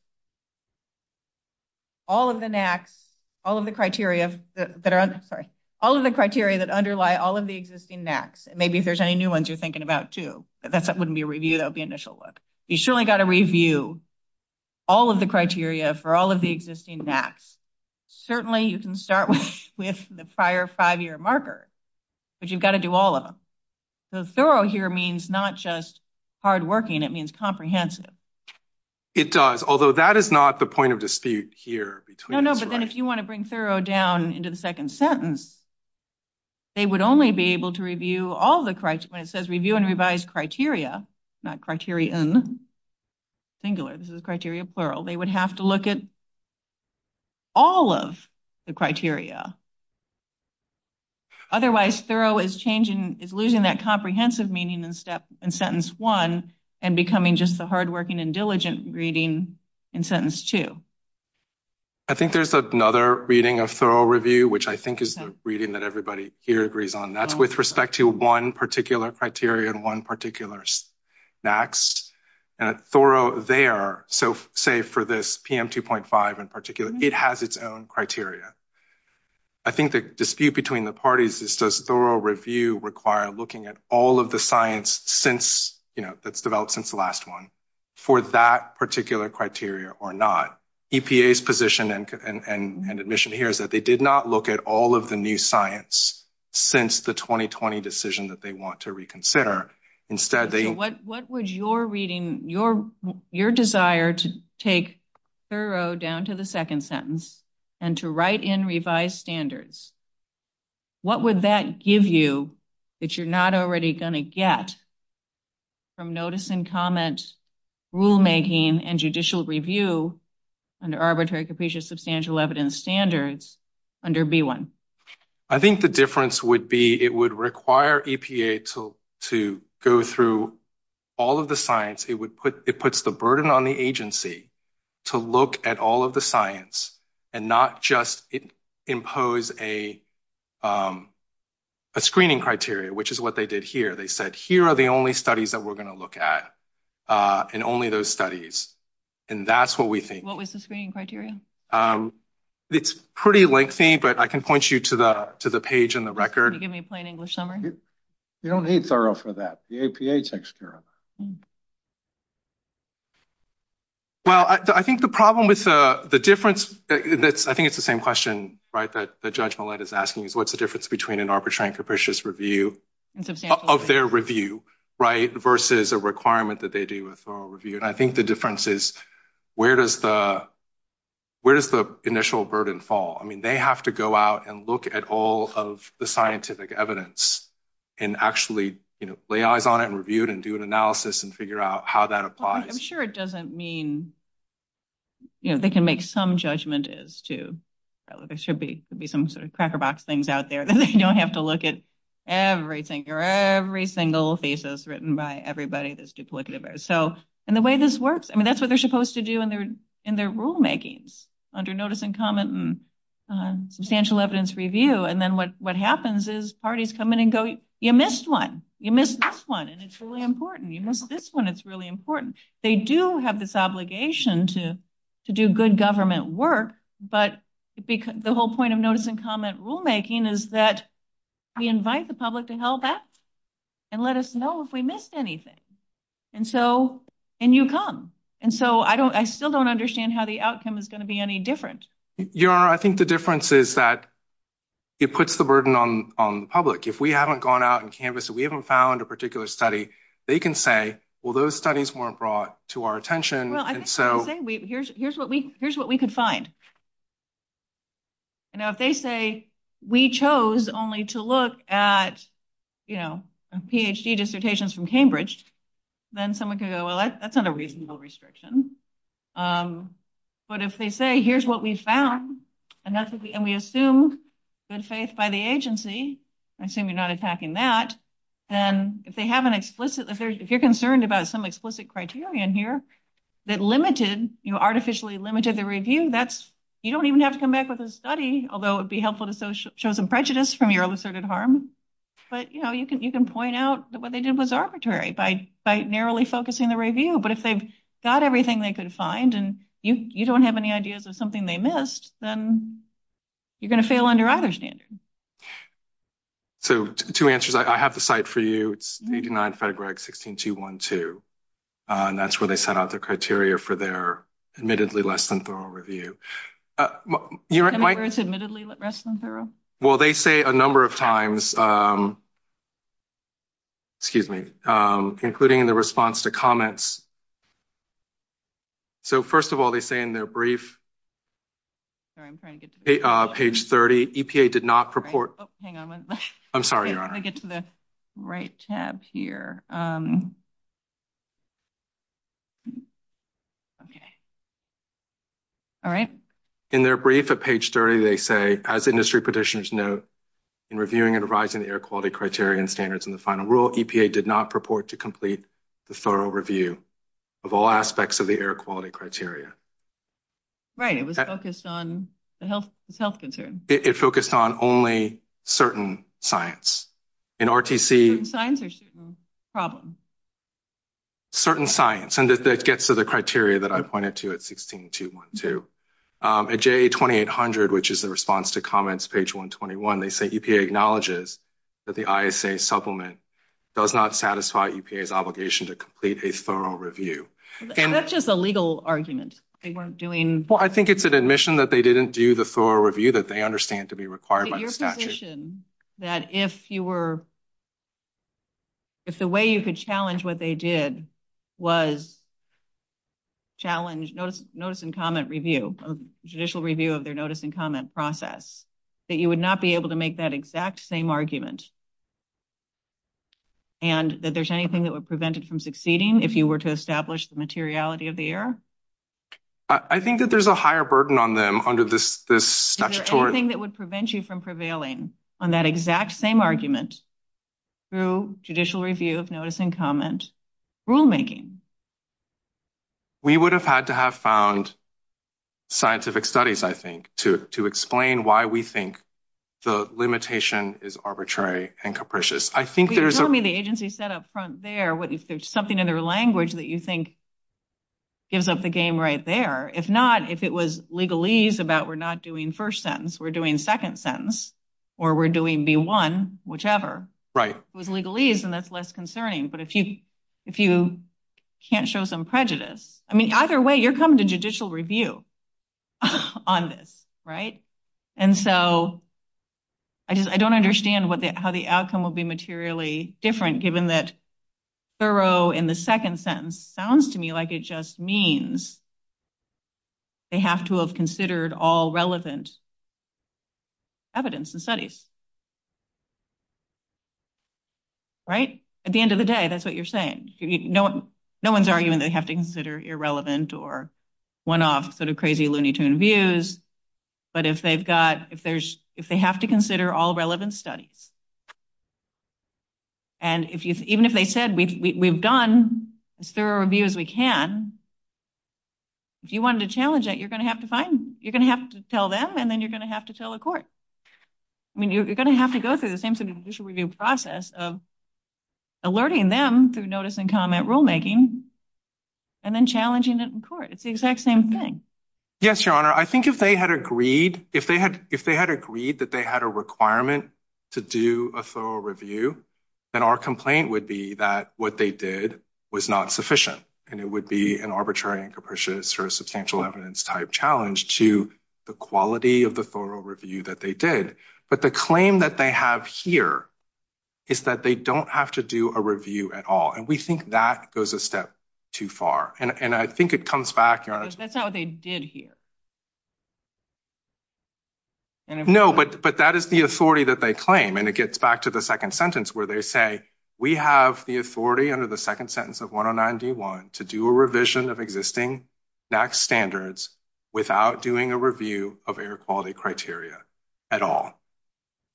All of the NACs, all of the criteria that underlie all of the existing NACs. Maybe if there's any new ones you're thinking about, too. That wouldn't be a review. That would be an initial look. You've surely got to review all of the criteria for all of the existing NACs. Certainly you can start with the prior five-year marker. But you've got to do all of them. So thorough here means not just hardworking. It means comprehensive. It does. Although that is not the point of dispute here. No, no. But then if you want to bring thorough down into the second sentence, they would only be able to review all of the criteria. When it says review and revise criteria, not criteria in singular. This is criteria plural. They would have to look at all of the criteria. Otherwise thorough is losing that comprehensive meaning in sentence one and becoming just the hardworking and diligent reading in sentence two. I think there's another reading of thorough review, which I think is the reading that everybody here agrees on. That's with respect to one particular criteria and one particular NAC. Thorough there, so say for this PM 2.5 in particular, it has its own criteria. I think the dispute between the parties is does thorough review require looking at all of the science that's developed since the last one for that particular criteria or not? EPA's position and admission here is that they did not look at all of the new science since the 2020 decision that they want to reconsider. What was your reading, your desire to take thorough down to the second sentence and to write in revised standards? What would that give you that you're not already going to get from notice and comment rulemaking and judicial review and arbitrary caputious substantial evidence standards under B1? I think the difference would be it would require EPA to go through all of the science. It would put it puts the burden on the agency to look at all of the science and not just impose a screening criteria, which is what they did here. They said here are the only studies that we're going to look at and only those studies. And that's what we think. What was the screening criteria? It's pretty lengthy, but I can point you to the to the page on the record. Give me a plain English summary. You don't need thorough for that. The EPA takes care of. Well, I think the problem with the difference that I think it's the same question, right? That the judgment is asking is what's the difference between an arbitrary and capricious review of their review? Right. Versus a requirement that they do a thorough review. And I think the difference is where does the where does the initial burden fall? I mean, they have to go out and look at all of the scientific evidence and actually lay eyes on it and reviewed and do an analysis and figure out how that applies. I'm sure it doesn't mean they can make some judgment as to whether there should be some sort of cracker box things out there. You don't have to look at everything or every single thesis written by everybody. So and the way this works, I mean, that's what they're supposed to do in their in their rulemakings under notice and comment and substantial evidence review. And then what what happens is parties come in and go, you missed one. You missed this one. And it's really important. This one, it's really important. They do have this obligation to to do good government work. But the whole point of notice and comment rulemaking is that we invite the public to help us and let us know if we missed anything. And so and you come. And so I don't I still don't understand how the outcome is going to be any different. Your I think the difference is that it puts the burden on on the public. If we haven't gone out and canvassed, we haven't found a particular study. They can say, well, those studies weren't brought to our attention. So here's what we here's what we can find. Now, if they say we chose only to look at, you know, PhD dissertations from Cambridge, then someone could go, well, that's not a reasonable restriction. But if they say, here's what we found. And we assume good faith by the agency. I assume you're not attacking that. And if they have an explicit, if you're concerned about some explicit criteria in here that limited you artificially limited the review, that's you don't even have to come back with a study, although it'd be helpful to show some prejudice from your illicited harm. But, you know, you can you can point out that what they did was arbitrary by by narrowly focusing the review. But if they've got everything they could find and you don't have any ideas of something they missed, then you're going to fail under either standard. So two answers, I have the site for you. It's 89 FEDRAG 16212. And that's where they set out the criteria for their admittedly less than thorough review. Admittedly less than thorough? Well, they say a number of times. Excuse me. Including the response to comments. So, first of all, they say in their brief. Page 30 EPA did not purport. Hang on. I'm sorry. I get to the right tab here. OK. All right. In their brief at page 30, they say, as industry petitioners note, in reviewing and revising the air quality criteria and standards in the final rule, EPA did not purport to complete the thorough review of all aspects of the air quality criteria. Right. It was focused on the health health concern. It focused on only certain science. And RTC. Certain science or certain problem. Certain science. And it gets to the criteria that I pointed to at 16212. At JA 2800, which is the response to comments, page 121, they say EPA acknowledges that the ISA supplement does not satisfy EPA's obligation to complete a thorough review. And that's just a legal argument. They weren't doing. Well, I think it's an admission that they didn't do the thorough review that they understand to be required by the statute. That if you were. If the way you could challenge what they did was. Challenge those notes and comment review of judicial review of their notice and comment process that you would not be able to make that exact same argument. And that there's anything that would prevent it from succeeding if you were to establish the materiality of the air. I think that there's a higher burden on them under this, this thing that would prevent you from prevailing on that exact same argument. Through judicial review of notice and comment rulemaking. We would have had to have found scientific studies, I think, to to explain why we think. The limitation is arbitrary and capricious. I think there's only the agency set up front there. There's something in their language that you think. Gives up the game right there. If not, if it was legal ease about, we're not doing 1st sentence, we're doing 2nd sentence. Or we're doing be 1, whichever right with legal ease and that's less concerning. But if you. Can't show some prejudice, I mean, either way you're coming to judicial review. On this, right? And so. I just, I don't understand what the, how the outcome will be materially different given that. Thoreau in the 2nd sentence sounds to me like it just means. They have to have considered all relevant. Evidence and studies. Right at the end of the day, that's what you're saying. No, no, one's arguing. They have to consider irrelevant or 1 off sort of crazy loony tune views. But if they've got, if there's, if they have to consider all relevant studies. And if you, even if they said, we've done thorough reviews, we can. Do you want to challenge it? You're going to have to find you're going to have to tell them and then you're going to have to tell the court. I mean, you're going to have to go through the same sort of process of alerting them through notice and comment rulemaking. And then challenging it in court. It's the exact same thing. Yes, your honor. I think if they had agreed, if they had, if they had agreed that they had a requirement. To do a thorough review, and our complaint would be that what they did was not sufficient. And it would be an arbitrary and capricious or substantial evidence type challenge to the quality of the thorough review that they did. But the claim that they have here is that they don't have to do a review at all. And we think that goes a step too far. And I think it comes back. That's how they did here. No, but, but that is the authority that they claim and it gets back to the 2nd sentence where they say, we have the authority under the 2nd sentence of 109 D1 to do a revision of existing. That standards without doing a review of air quality criteria at all.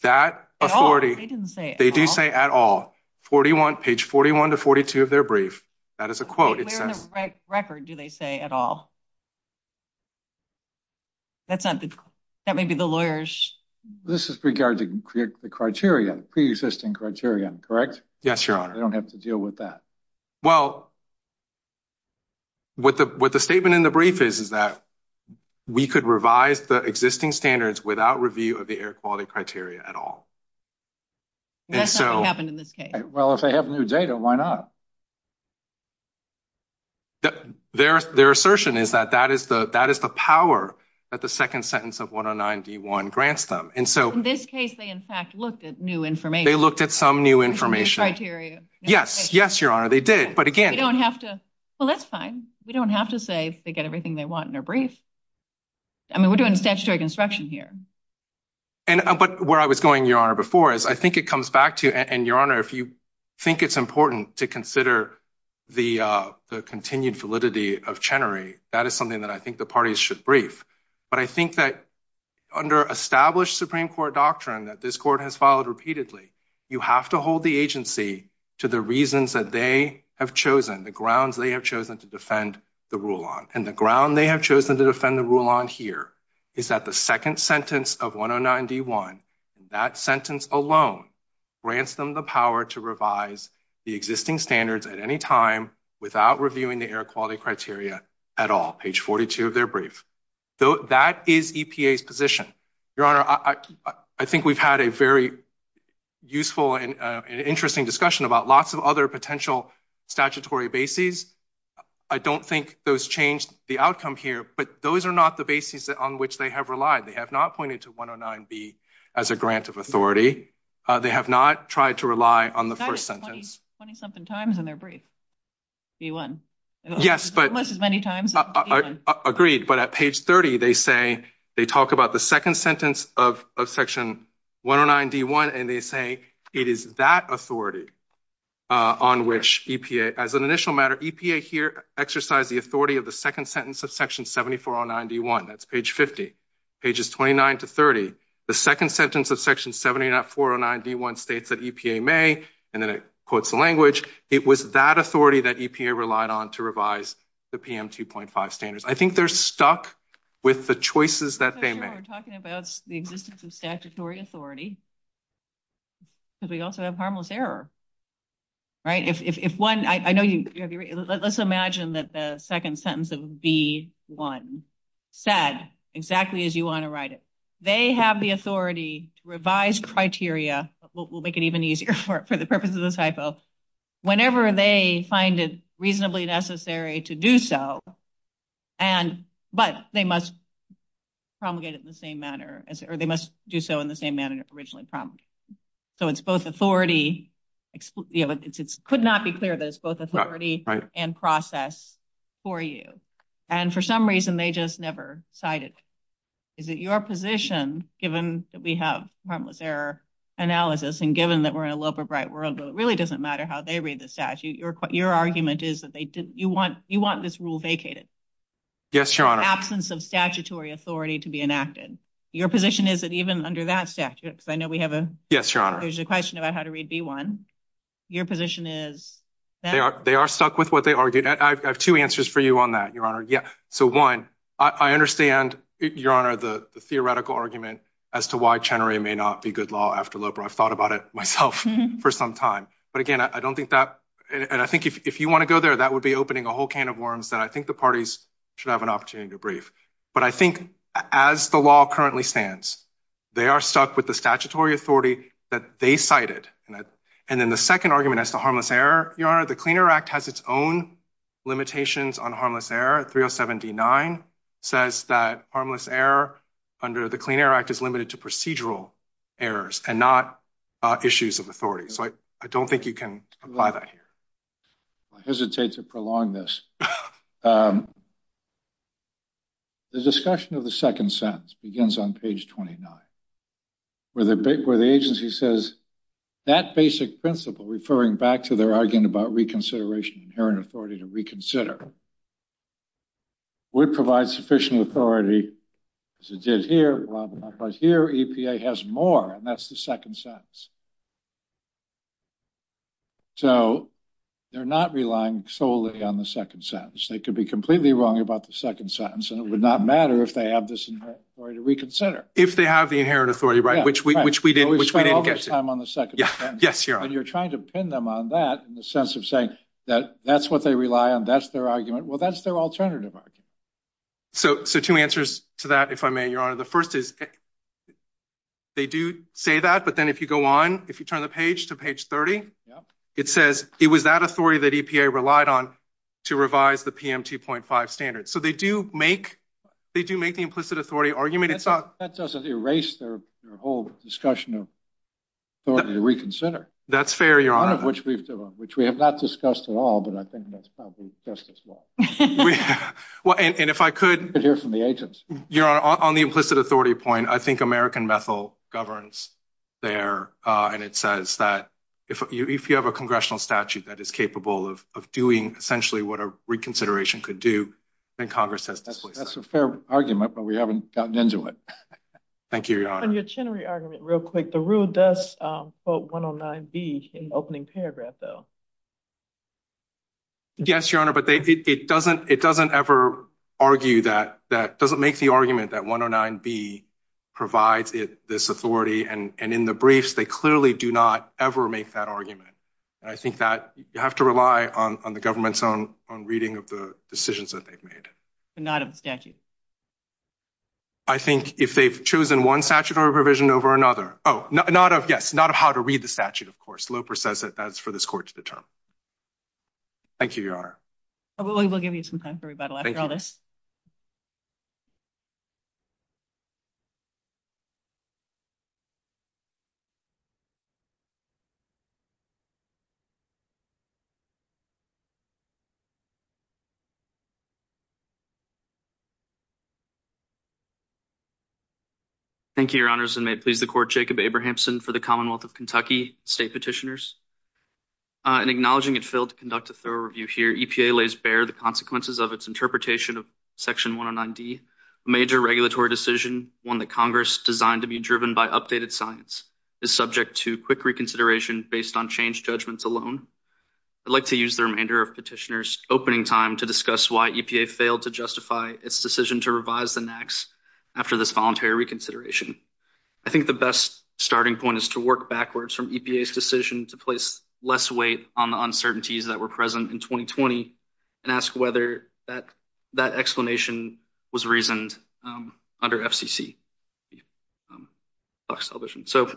That didn't say they didn't say at all 41 page 41 to 42 of their brief. That is a quote record. Do they say at all? That's not that may be the lawyers. This is regarding the criteria preexisting criteria. Correct? Yes. Sure. I don't have to deal with that. Well, what the, what the statement in the brief is, is that we could revise the existing standards without review of the air quality criteria at all. Well, if they have new data, why not? Their, their assertion is that that is the, that is the power that the 2nd sentence of 109 D1 grants them. And so in this case, they, in fact, look at new information. They looked at some new information criteria. Yes. Yes. Your honor. They did. But again, you don't have to. Well, that's fine. We don't have to say they get everything they want in a brief. I mean, we're doing construction here, but where I was going before is, I think it comes back to and your honor, if you think it's important to consider the, the continued validity of that is something that I think the parties should brief. But I think that under established Supreme Court doctrine that this court has followed repeatedly, you have to hold the agency to the reasons that they have chosen the grounds. They have chosen to defend the rule on and the ground. They have chosen to defend the rule on here is that the 2nd sentence of 109 D1, that sentence alone grants them the power to revise the existing standards at any time without reviewing the air quality criteria at all. So, that is EPA's position. Your honor. I think we've had a very useful and interesting discussion about lots of other potential statutory bases. I don't think those changed the outcome here, but those are not the basis on which they have relied. They have not pointed to 109 B as a grant of authority. They have not tried to rely on the 1st sentence. 20 something times in their brief. Yes, but as many times agreed, but at page 30, they say, they talk about the 2nd sentence of section 109 D1 and they say, it is that authority on which EPA as an initial matter EPA here exercise the authority of the 2nd sentence of section 7409 D1. That's page 50, pages 29 to 30. The 2nd sentence of section 7409 D1 states that EPA may, and then it quotes the language. It was that authority that EPA relied on to revise the PM 2.5 standards. I think they're stuck with the choices that they make. We're talking about the existence of statutory authority. Because we also have harmless error. Right? If one, I know you, let's imagine that the 2nd sentence of D1 said exactly as you want to write it. They have the authority to revise criteria. We'll make it even easier for the purposes of this typo. Whenever they find it reasonably necessary to do so, but they must promulgate it in the same manner, or they must do so in the same manner it was originally promulgated. So, it's both authority, it could not be clear that it's both authority and process for you. And for some reason, they just never cited. Is it your position, given that we have harmless error analysis and given that we're in a love of bright world, it really doesn't matter how they read the statute. Your argument is that you want this rule vacated. Yes, your absence of statutory authority to be enacted. Your position is that even under that statute, I know we have a, there's a question about how to read D1. Your position is that they are stuck with what they argued. I have 2 answers for you on that. Your honor. Yeah. So, 1, I understand your honor. The theoretical argument as to why Chenery may not be good law after labor. I thought about it myself for some time, but again, I don't think that and I think if you want to go there, that would be opening a whole can of worms that I think the parties should have an opportunity to brief. But I think, as the law currently stands, they are stuck with the statutory authority that they cited. And then the 2nd argument is the harmless error. Your honor, the cleaner act has its own limitations on harmless error. 307 D9 says that harmless error under the cleaner act is limited to procedural errors and not issues of authority. So, I don't think you can apply that here. I hesitate to prolong this. The discussion of the 2nd sentence begins on page 29, where the agency says that basic principle, referring back to their argument about reconsideration, inherent authority to reconsider. We provide sufficient authority as it did here, but here EPA has more and that's the 2nd sentence. So, they're not relying solely on the 2nd sentence. They could be completely wrong about the 2nd sentence, and it would not matter if they have this or to reconsider. If they have the inherent authority, right? Which we, which we didn't, which I'm on the 2nd. Yes. Yes. You're trying to pin them on that in the sense of saying that that's what they rely on. That's their argument. Well, that's their alternative. So, so 2 answers to that, if I may, your honor, the 1st is they do say that, but then if you go on, if you turn the page to page 30, it says it was that authority that EPA relied on to revise the PM 2.5 standards. So, they do make, they do make the implicit authority argument. It's not that doesn't erase their whole discussion of. That's fair, your honor, which we've done, which we have not discussed at all, but I think that's probably just as well. Well, and if I could hear from the agents, you're on the implicit authority point. I think American methyl governs there. And it says that if you have a congressional statute that is capable of doing essentially what a reconsideration could do, then Congress says, that's a fair argument, but we haven't gotten into it. Thank you your honor real quick. The rule does quote 109B in the opening paragraph though. Yes, your honor, but it doesn't, it doesn't ever argue that that doesn't make the argument that 109B provides this authority and in the briefs, they clearly do not ever make that argument. And I think that you have to rely on the government's own on reading of the decisions that they've made. I think if they've chosen one statute or a provision over another. Oh, not of yes, not of how to read the statute. Of course, Loper says that that's for this court to determine. Thank you your honor. We'll give you some time for rebuttal after all this. Thank you your honors and may it please the court Jacob Abrahamson for the Commonwealth of Kentucky state petitioners. And acknowledging it failed to conduct a thorough review here. EPA lays bare the consequences of its interpretation of section 109D major regulatory decision. One that Congress designed to be driven by updated science is subject to quick reconsideration based on change judgments alone. I'd like to use the remainder of petitioners opening time to discuss why EPA failed to justify its decision to revise the NAAQS after this voluntary reconsideration. I think the best starting point is to work backwards from EPA's decision to place less weight on the uncertainties that were present in 2020 and ask whether that that explanation was reasoned under FCC. So.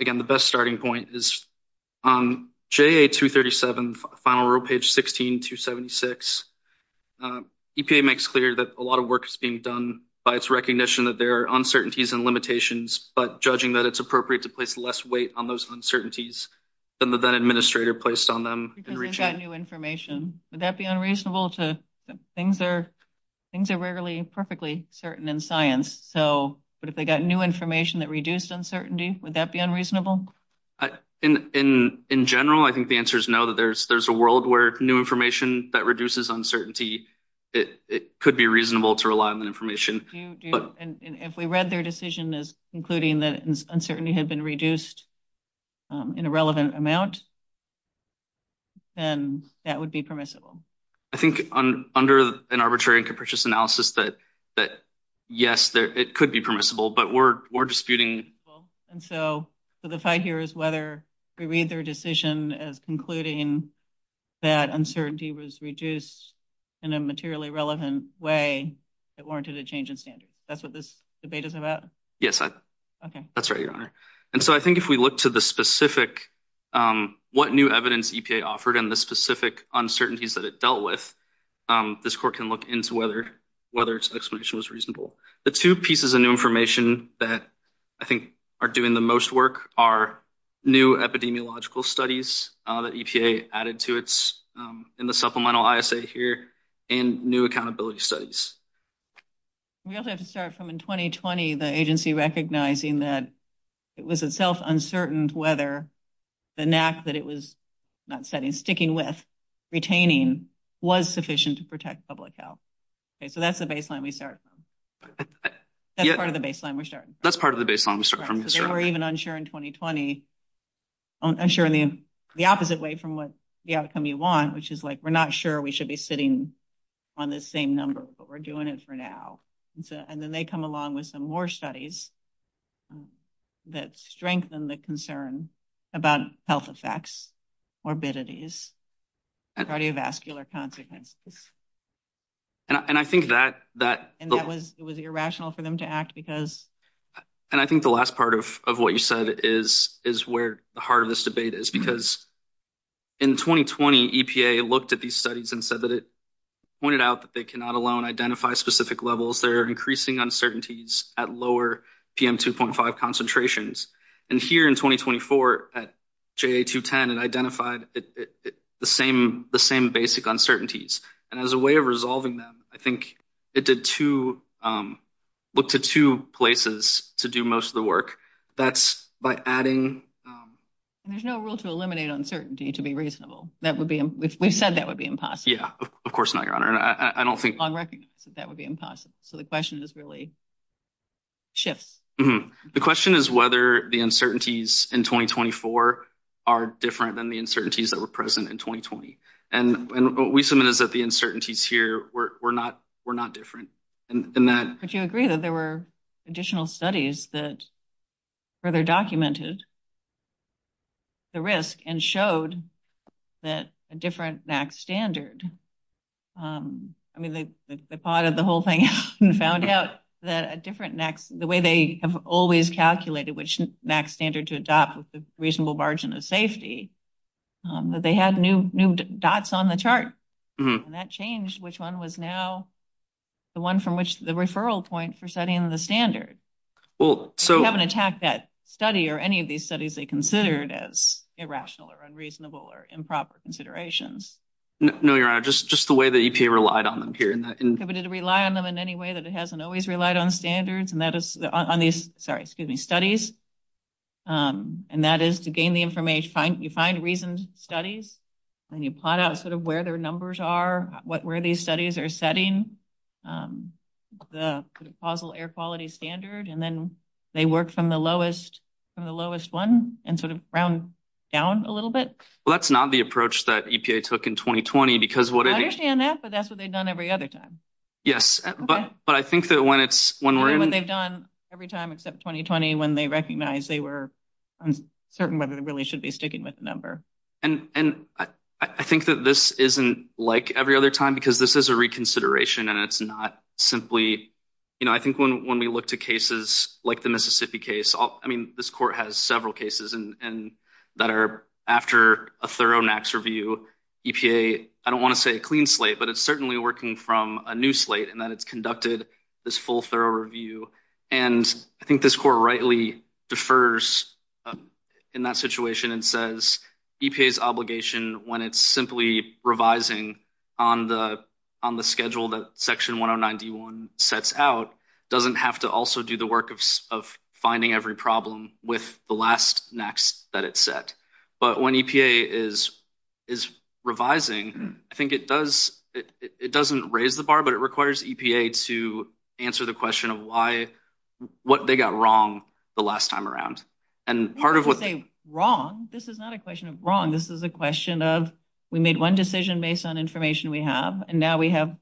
Again, the best starting point is on J.A. 237 final row page 16276. EPA makes clear that a lot of work is being done by its recognition that there are uncertainties and limitations, but judging that it's appropriate to place less weight on those uncertainties than the administrator placed on them. If they got new information, would that be unreasonable? Things are rarely perfectly certain in science, but if they got new information that reduced uncertainty, would that be unreasonable? In general, I think the answer is no. There's a world where new information that reduces uncertainty, it could be reasonable to rely on that information. If we read their decision as concluding that uncertainty had been reduced in a relevant amount. Then that would be permissible. I think under an arbitrary and capricious analysis that yes, it could be permissible, but we're disputing. And so the fight here is whether we read their decision as concluding that uncertainty was reduced in a materially relevant way that warranted a change in standards. That's what this debate is about? Yes, that's right. And so I think if we look to the specific, what new evidence EPA offered and the specific uncertainties that it dealt with, this court can look into whether its explanation was reasonable. The two pieces of new information that I think are doing the most work are new epidemiological studies that EPA added to its supplemental ISA here and new accountability studies. We also have to start from in 2020, the agency recognizing that it was itself uncertain whether the NAC that it was sticking with, retaining, was sufficient to protect public health. So that's the baseline we start from. That's part of the baseline we're starting from. We're even unsure in 2020. I'm sure the opposite way from what the outcome you want, which is like, we're not sure we should be sitting on the same number, but we're doing it for now. And then they come along with some more studies that strengthen the concern about health effects, morbidities, cardiovascular consequences. And I think that was irrational for them to act because. And I think the last part of what you said is where the heart of this debate is because in 2020, EPA looked at these studies and said that it pointed out that they cannot alone identify specific levels. There are increasing uncertainties at lower PM 2.5 concentrations. And here in 2024 at GA 210, it identified the same basic uncertainties. And as a way of resolving them, I think it did look to two places to do most of the work. That's by adding. There's no rule to eliminate uncertainty to be reasonable. We said that would be impossible. Yeah, of course not. I don't think that would be impossible. So the question is really. The question is whether the uncertainties in 2024 are different than the uncertainties that were present in 2020. And we submitted that the uncertainties here. We're not we're not different. And that you agree that there were additional studies that further documented the risk and showed that a different standard. I mean, the part of the whole thing and found out that a different next the way they have always calculated, which next standard to adopt a reasonable margin of safety. But they had new new dots on the chart and that changed which one was now the one from which the referral point for setting the standard. Well, so haven't attacked that study or any of these studies they considered as irrational or unreasonable or improper considerations. No, you're right. Just just the way that you can relied on them here. Relied on them in any way that it hasn't always relied on standards and that is on these. Sorry. Excuse me studies. And that is to gain the information you find reasons studies and you plot out sort of where their numbers are where these studies are setting the causal air quality standard. And then they work from the lowest from the lowest one and sort of round down a little bit. Well, that's not the approach that EPA took in 2020, because what I understand that, but that's what they've done every other time. Yes. But I think that when it's when they've done every time except 2020, when they recognize they were certain, but it really should be sticking with number. And I think that this isn't like every other time, because this is a reconsideration and it's not simply. You know, I think when we look to cases like the Mississippi case, I mean, this court has several cases and that are after a thorough next review EPA. I don't want to say a clean slate, but it's certainly working from a new slate and that it's conducted this full thorough review. And I think this court rightly defers in that situation and says EPA's obligation when it's simply revising on the on the schedule that section one on ninety one sets out doesn't have to also do the work of finding every problem with the last next that it set. But when EPA is is revising, I think it does it doesn't raise the bar, but it requires EPA to answer the question of why what they got wrong the last time around. And part of what they wrong. This is not a question of wrong. This is a question of we made one decision based on information we have. And now we have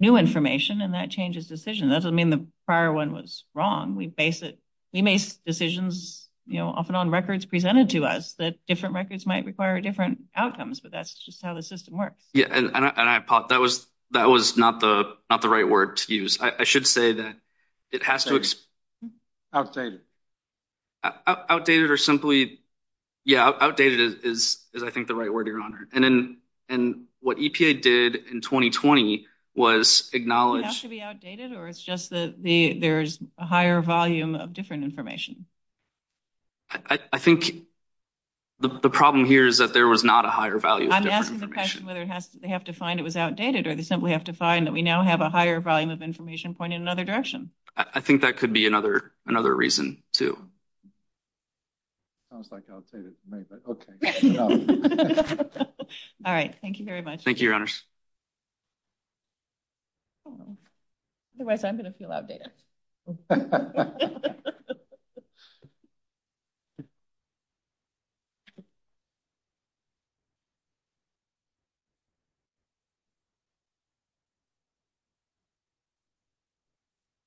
new information and that changes decision. That doesn't mean the prior one was wrong. We face it. He makes decisions often on records presented to us that different records might require different outcomes. But that's just how the system works. Yeah, and I thought that was that was not the not the right word to use. I should say that it has to. Outdated. Outdated or simply, yeah, outdated is, is, I think, the right word, Your Honor. And then and what EPA did in twenty twenty was acknowledged to be outdated or it's just that the there's a higher volume of different information. I think the problem here is that there was not a higher value. Whether they have to find it was outdated or they simply have to find that we now have a higher volume of information point in another direction. I think that could be another another reason to. All right. Thank you very much. Thank you. Otherwise, I'm going to feel outdated. The.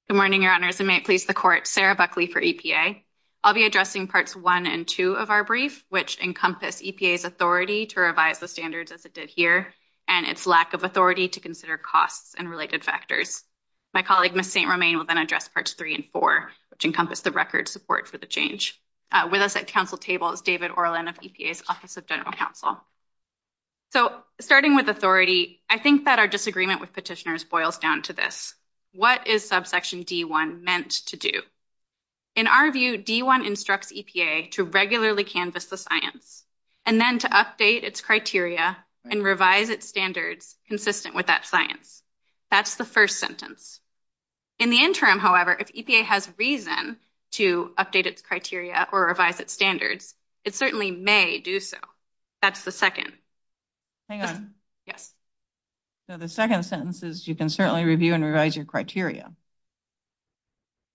Good morning, Your Honor. Sarah Buckley for EPA. I'll be addressing parts one and two of our brief, which encompass EPA's authority to revise the standards as it did here and its lack of authority to consider costs and related factors. My colleague, Miss St. Romain will then address parts three and four, which encompass the record support for the change with us at council table. It's David Orland of EPA's Office of General Counsel. So, starting with authority, I think that our disagreement with petitioners boils down to this. What is subsection D1 meant to do? In our view, D1 instructs EPA to regularly canvass the science and then to update its criteria and revise its standards consistent with that science. That's the first sentence in the interim. However, if EPA has reason to update its criteria or revise its standards, it certainly may do so. That's the second. Hang on. Yes. So, the second sentence is you can certainly review and revise your criteria.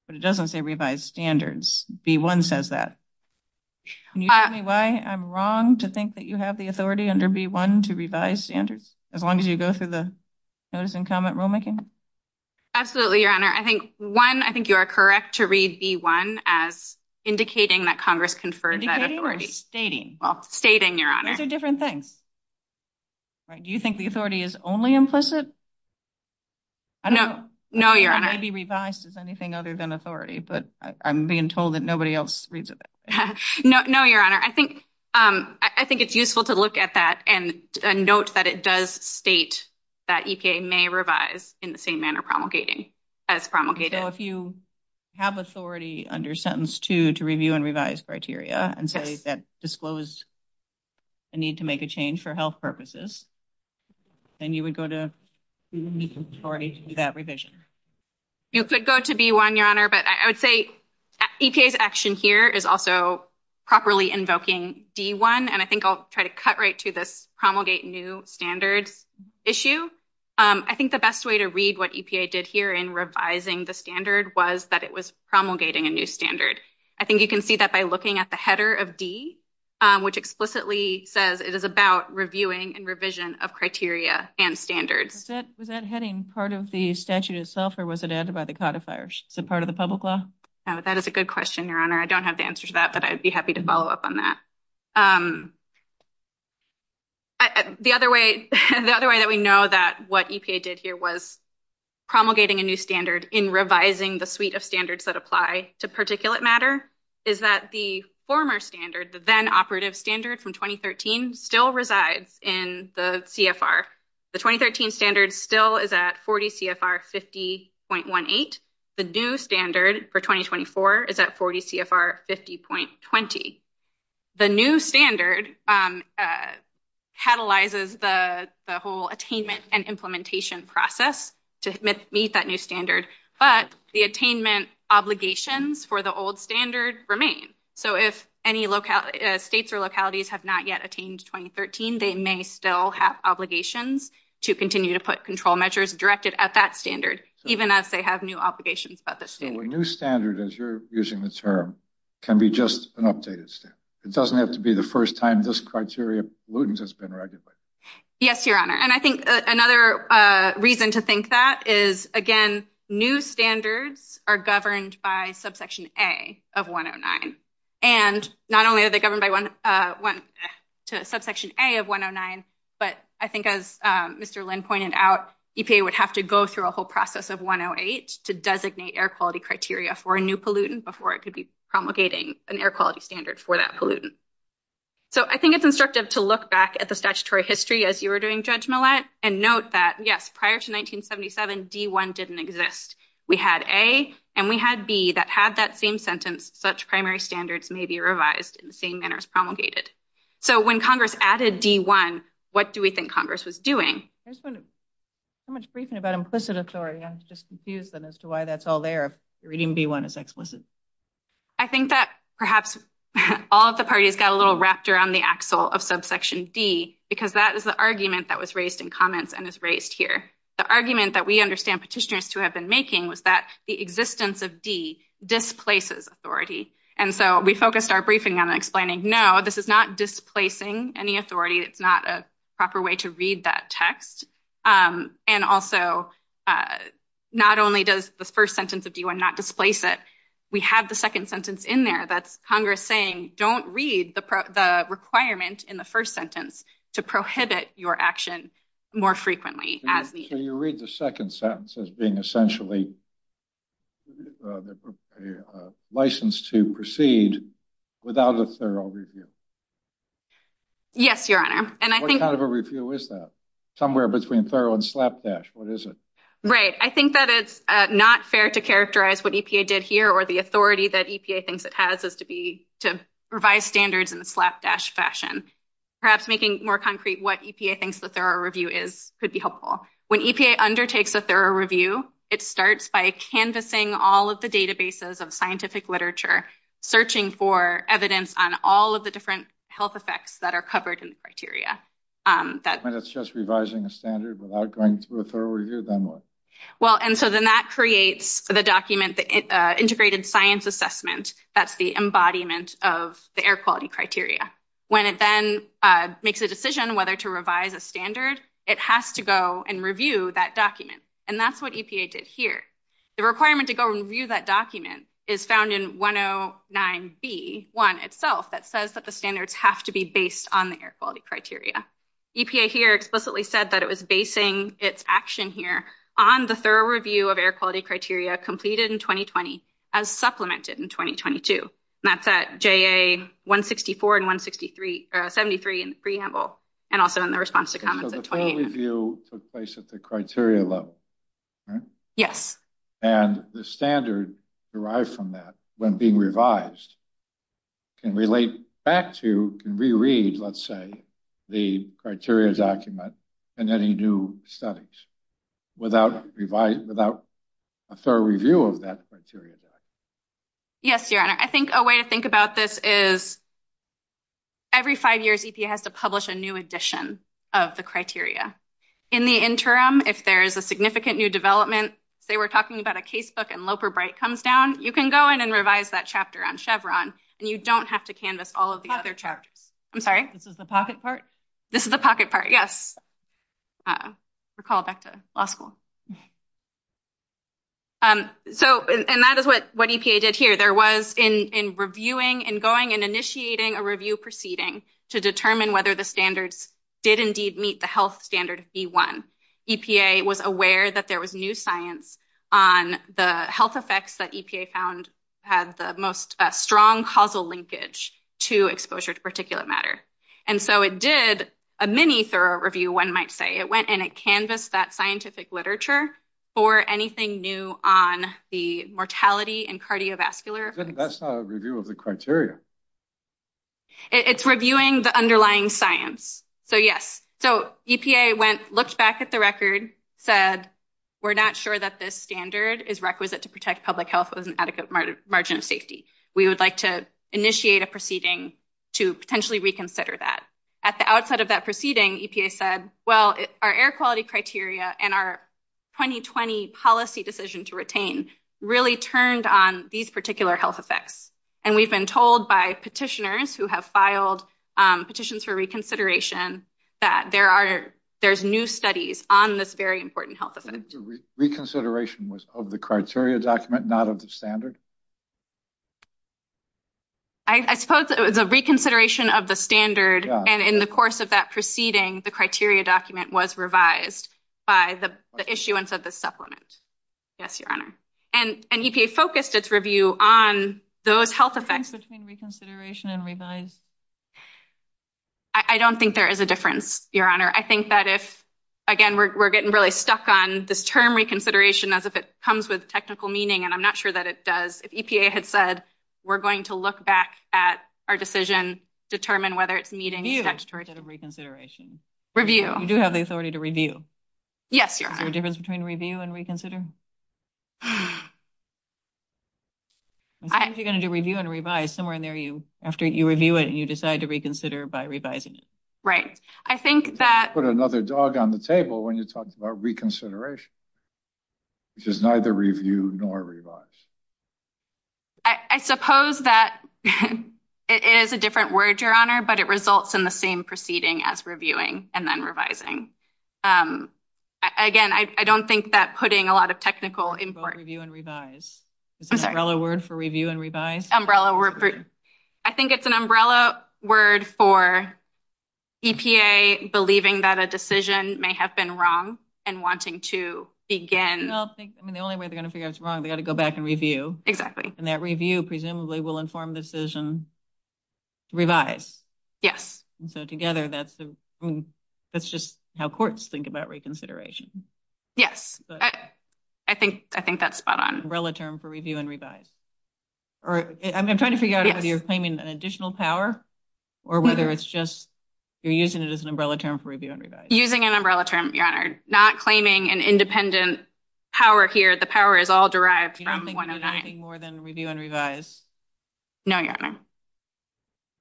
But it doesn't say revised standards. B1 says that. Can you tell me why I'm wrong to think that you have the authority under B1 to revise standards as long as you go through the notice and comment rulemaking? Absolutely, Your Honor. I think, one, I think you are correct to read B1 as indicating that Congress conferred that authority. Indicating or stating? Stating, Your Honor. Those are different things. Do you think the authority is only implicit? No, Your Honor. It may be revised as anything other than authority, but I'm being told that nobody else reads it that way. No, Your Honor. I think, I think it's useful to look at that and note that it does state that EPA may revise in the same manner promulgated, as promulgated. So, if you have authority under sentence 2 to review and revise criteria and say that disclosed a need to make a change for health purposes, then you would go to, you would need some authority to do that revision. You could go to B1, Your Honor, but I would say EPA's action here is also properly invoking B1, and I think I'll try to cut right to this promulgate new standard issue. I think the best way to read what EPA did here in revising the standard was that it was promulgating a new standard. I think you can see that by looking at the header of D, which explicitly says it is about reviewing and revision of criteria and standards. Was that heading part of the statute itself, or was it added by the codifier? Is it part of the public law? That is a good question, Your Honor. I don't have the answer to that, but I'd be happy to follow up on that. The other way, the other way that we know that what EPA did here was promulgating a new standard in revising the suite of standards that apply to particulate matter is that the former standard, the then operative standard from 2013, still resides in the CFR. The 2013 standard still is at 40 CFR 50.18. The new standard for 2024 is at 40 CFR 50.20. The new standard catalyzes the whole attainment and implementation process to meet that new standard, but the attainment obligations for the old standard remain. So if any states or localities have not yet attained 2013, they may still have obligations to continue to put control measures directed at that standard, even as they have new obligations by the state. So a new standard, as you're using the term, can be just an updated standard. It doesn't have to be the first time this criteria pollutants has been regulated. Yes, Your Honor. And I think another reason to think that is, again, new standards are governed by subsection A of 109. And not only are they governed by subsection A of 109, but I think as Mr. Lynn pointed out, EPA would have to go through a whole process of 108 to designate air quality criteria for a new pollutant before it could be promulgating an air quality standard for that pollutant. So I think it's instructive to look back at the statutory history as you were doing, Judge Millett, and note that, yes, prior to 1977, D1 didn't exist. We had A and we had B that had that same sentence, such primary standards may be revised in the same manner as promulgated. So when Congress added D1, what do we think Congress was doing? There's been so much briefing about implicit authority, I'm just confused as to why that's all there, if reading D1 is explicit. I think that perhaps all of the parties got a little rapture on the axle of subsection D, because that is the argument that was raised in comments and is raised here. The argument that we understand petitioners to have been making was that the existence of D displaces authority. And so we focused our briefing on explaining, no, this is not displacing any authority. It's not a proper way to read that text. And also, not only does the first sentence of D1 not displace it, we have the second sentence in there that's Congress saying, don't read the requirement in the first sentence to prohibit your action more frequently. Can you read the second sentence as being essentially a license to proceed without a thorough review? Yes, Your Honor. What kind of a review is that? Somewhere between thorough and slapdash, what is it? Right, I think that is not fair to characterize what EPA did here or the authority that EPA thinks it has is to revise standards in the slapdash fashion. Perhaps making more concrete what EPA thinks a thorough review is could be helpful. When EPA undertakes a thorough review, it starts by canvassing all of the databases of scientific literature, searching for evidence on all of the different health effects that are covered in the criteria. And it's just revising a standard without going through a thorough review, then what? Well, and so then that creates the document, the integrated science assessment. That's the embodiment of the air quality criteria. When it then makes a decision whether to revise a standard, it has to go and review that document. And that's what EPA did here. The requirement to go and review that document is found in 109B1 itself that says that the standards have to be based on the air quality criteria. EPA here explicitly said that it was basing its action here on the thorough review of air quality criteria completed in 2020 as supplemented in 2022. And that's at JA 164 and 173 in the preamble and also in the response to comments in 2018. So the thorough review took place at the criteria level, right? Yes. And the standard derived from that, when being revised, can relate back to, can reread, let's say, the criteria document in any new studies without a thorough review of that criteria. Yes, Your Honor. I think a way to think about this is every five years, EPA has to publish a new edition of the criteria. In the interim, if there is a significant new development, they were talking about a casebook and Loper-Bright comes down, you can go in and revise that chapter on Chevron, and you don't have to canvass all of the other chapters. I'm sorry? This is the pocket part? This is the pocket part, yes. Recall back to law school. And that is what EPA did here. There was, in reviewing and going and initiating a review proceeding to determine whether the standards did indeed meet the health standard of B1, EPA was aware that there was new science on the health effects that EPA found had the most strong causal linkage to exposure to particulate matter. And so it did a mini thorough review, one might say. It went and it canvassed that scientific literature for anything new on the mortality and cardiovascular. That's not a review of the criteria. It's reviewing the underlying science. So, yes. So, EPA went, looked back at the record, said, we're not sure that this standard is requisite to protect public health with an adequate margin of safety. We would like to initiate a proceeding to potentially reconsider that. At the outset of that proceeding, EPA said, well, our air quality criteria and our 2020 policy decision to retain really turned on these particular health effects. And we've been told by petitioners who have filed petitions for reconsideration that there's new studies on this very important health effect. The reconsideration was of the criteria document, not of the standard? I suppose it was a reconsideration of the standard. And in the course of that proceeding, the criteria document was revised by the issuance of the supplement. Yes, Your Honor. And EPA focused its review on those health effects between reconsideration and revised. I don't think there is a difference, Your Honor. I think that if, again, we're getting really stuck on this term reconsideration as if it comes with technical meaning, and I'm not sure that it does. If EPA had said, we're going to look back at our decision, determine whether it's meeting the text chart. Review instead of reconsideration. Review. You do have the authority to review. Yes, Your Honor. Is there a difference between review and reconsider? Sometimes you're going to do review and revise. Somewhere in there, after you review it, you decide to reconsider by revising it. Right. I think that... You put another dog on the table when you talk about reconsideration. Because neither review nor revise. I suppose that it is a different word, Your Honor, but it results in the same proceeding as reviewing and then revising. Again, I don't think that putting a lot of technical import... Both review and revise. Is umbrella word for review and revise? Umbrella word for... I think it's an umbrella word for EPA believing that a decision may have been wrong and wanting to begin... I mean, the only way they're going to figure out it's wrong, they've got to go back and review. And that review presumably will inform decision revise. Yes. So together, that's just how courts think about reconsideration. Yes. I think that's spot on. Umbrella term for review and revise. I'm trying to figure out whether you're claiming an additional power or whether it's just... You're using it as an umbrella term for review and revise. Using an umbrella term, Your Honor. Not claiming an independent power here. The power is all derived from 109. You don't think there's anything more than review and revise? No, Your Honor.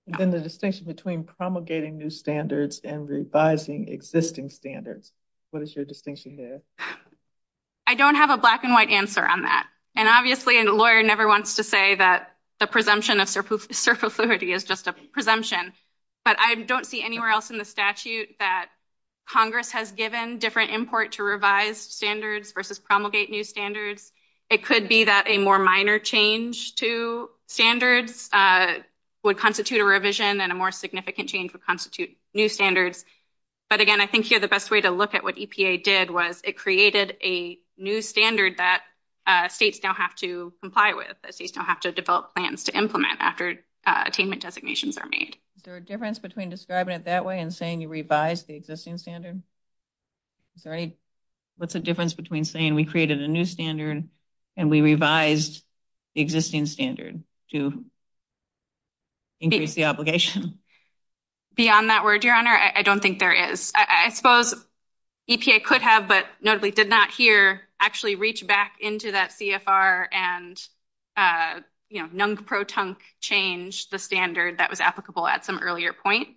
Then the distinction between promulgating new standards and revising existing standards. What is your distinction there? I don't have a black and white answer on that. And obviously, the lawyer never wants to say that the presumption of circularity is just a presumption. But I don't see anywhere else in the statute that Congress has given different import to revise standards versus promulgate new standards. It could be that a more minor change to standards would constitute a revision and a more significant change would constitute new standards. But again, I think here the best way to look at what EPA did was it created a new standard that states now have to comply with. That states now have to develop plans to implement after attainment designations are made. Is there a difference between describing it that way and saying you revised the existing standard? What's the difference between saying we created a new standard and we revised the existing standard to increase the obligation? Beyond that word, Your Honor, I don't think there is. I suppose EPA could have, but notably did not here, actually reach back into that CFR and, you know, non-proton change the standard that was applicable at some earlier point.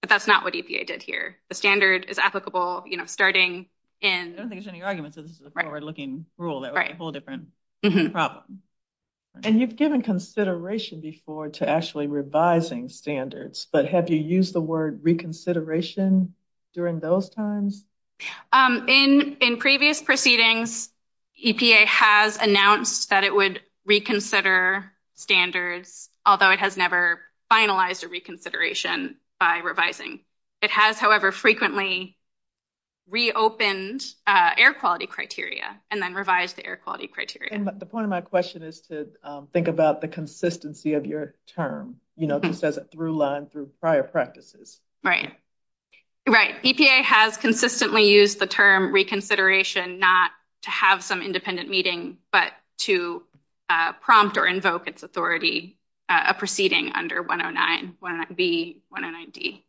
But that's not what EPA did here. The standard is applicable, you know, starting in... I don't think there's any argument that this is a forward-looking rule. That would be a whole different problem. And you've given consideration before to actually revising standards, but have you used the word reconsideration during those times? In previous proceedings, EPA has announced that it would reconsider standards, although it has never finalized a reconsideration by revising. It has, however, frequently reopened air quality criteria and then revised the air quality criteria. And the point of my question is to think about the consistency of your term. You know, just as a through line through prior practices. Right. Right. EPA has consistently used the term reconsideration not to have some independent meeting, but to prompt or invoke its authority, a proceeding under 109B, 109D.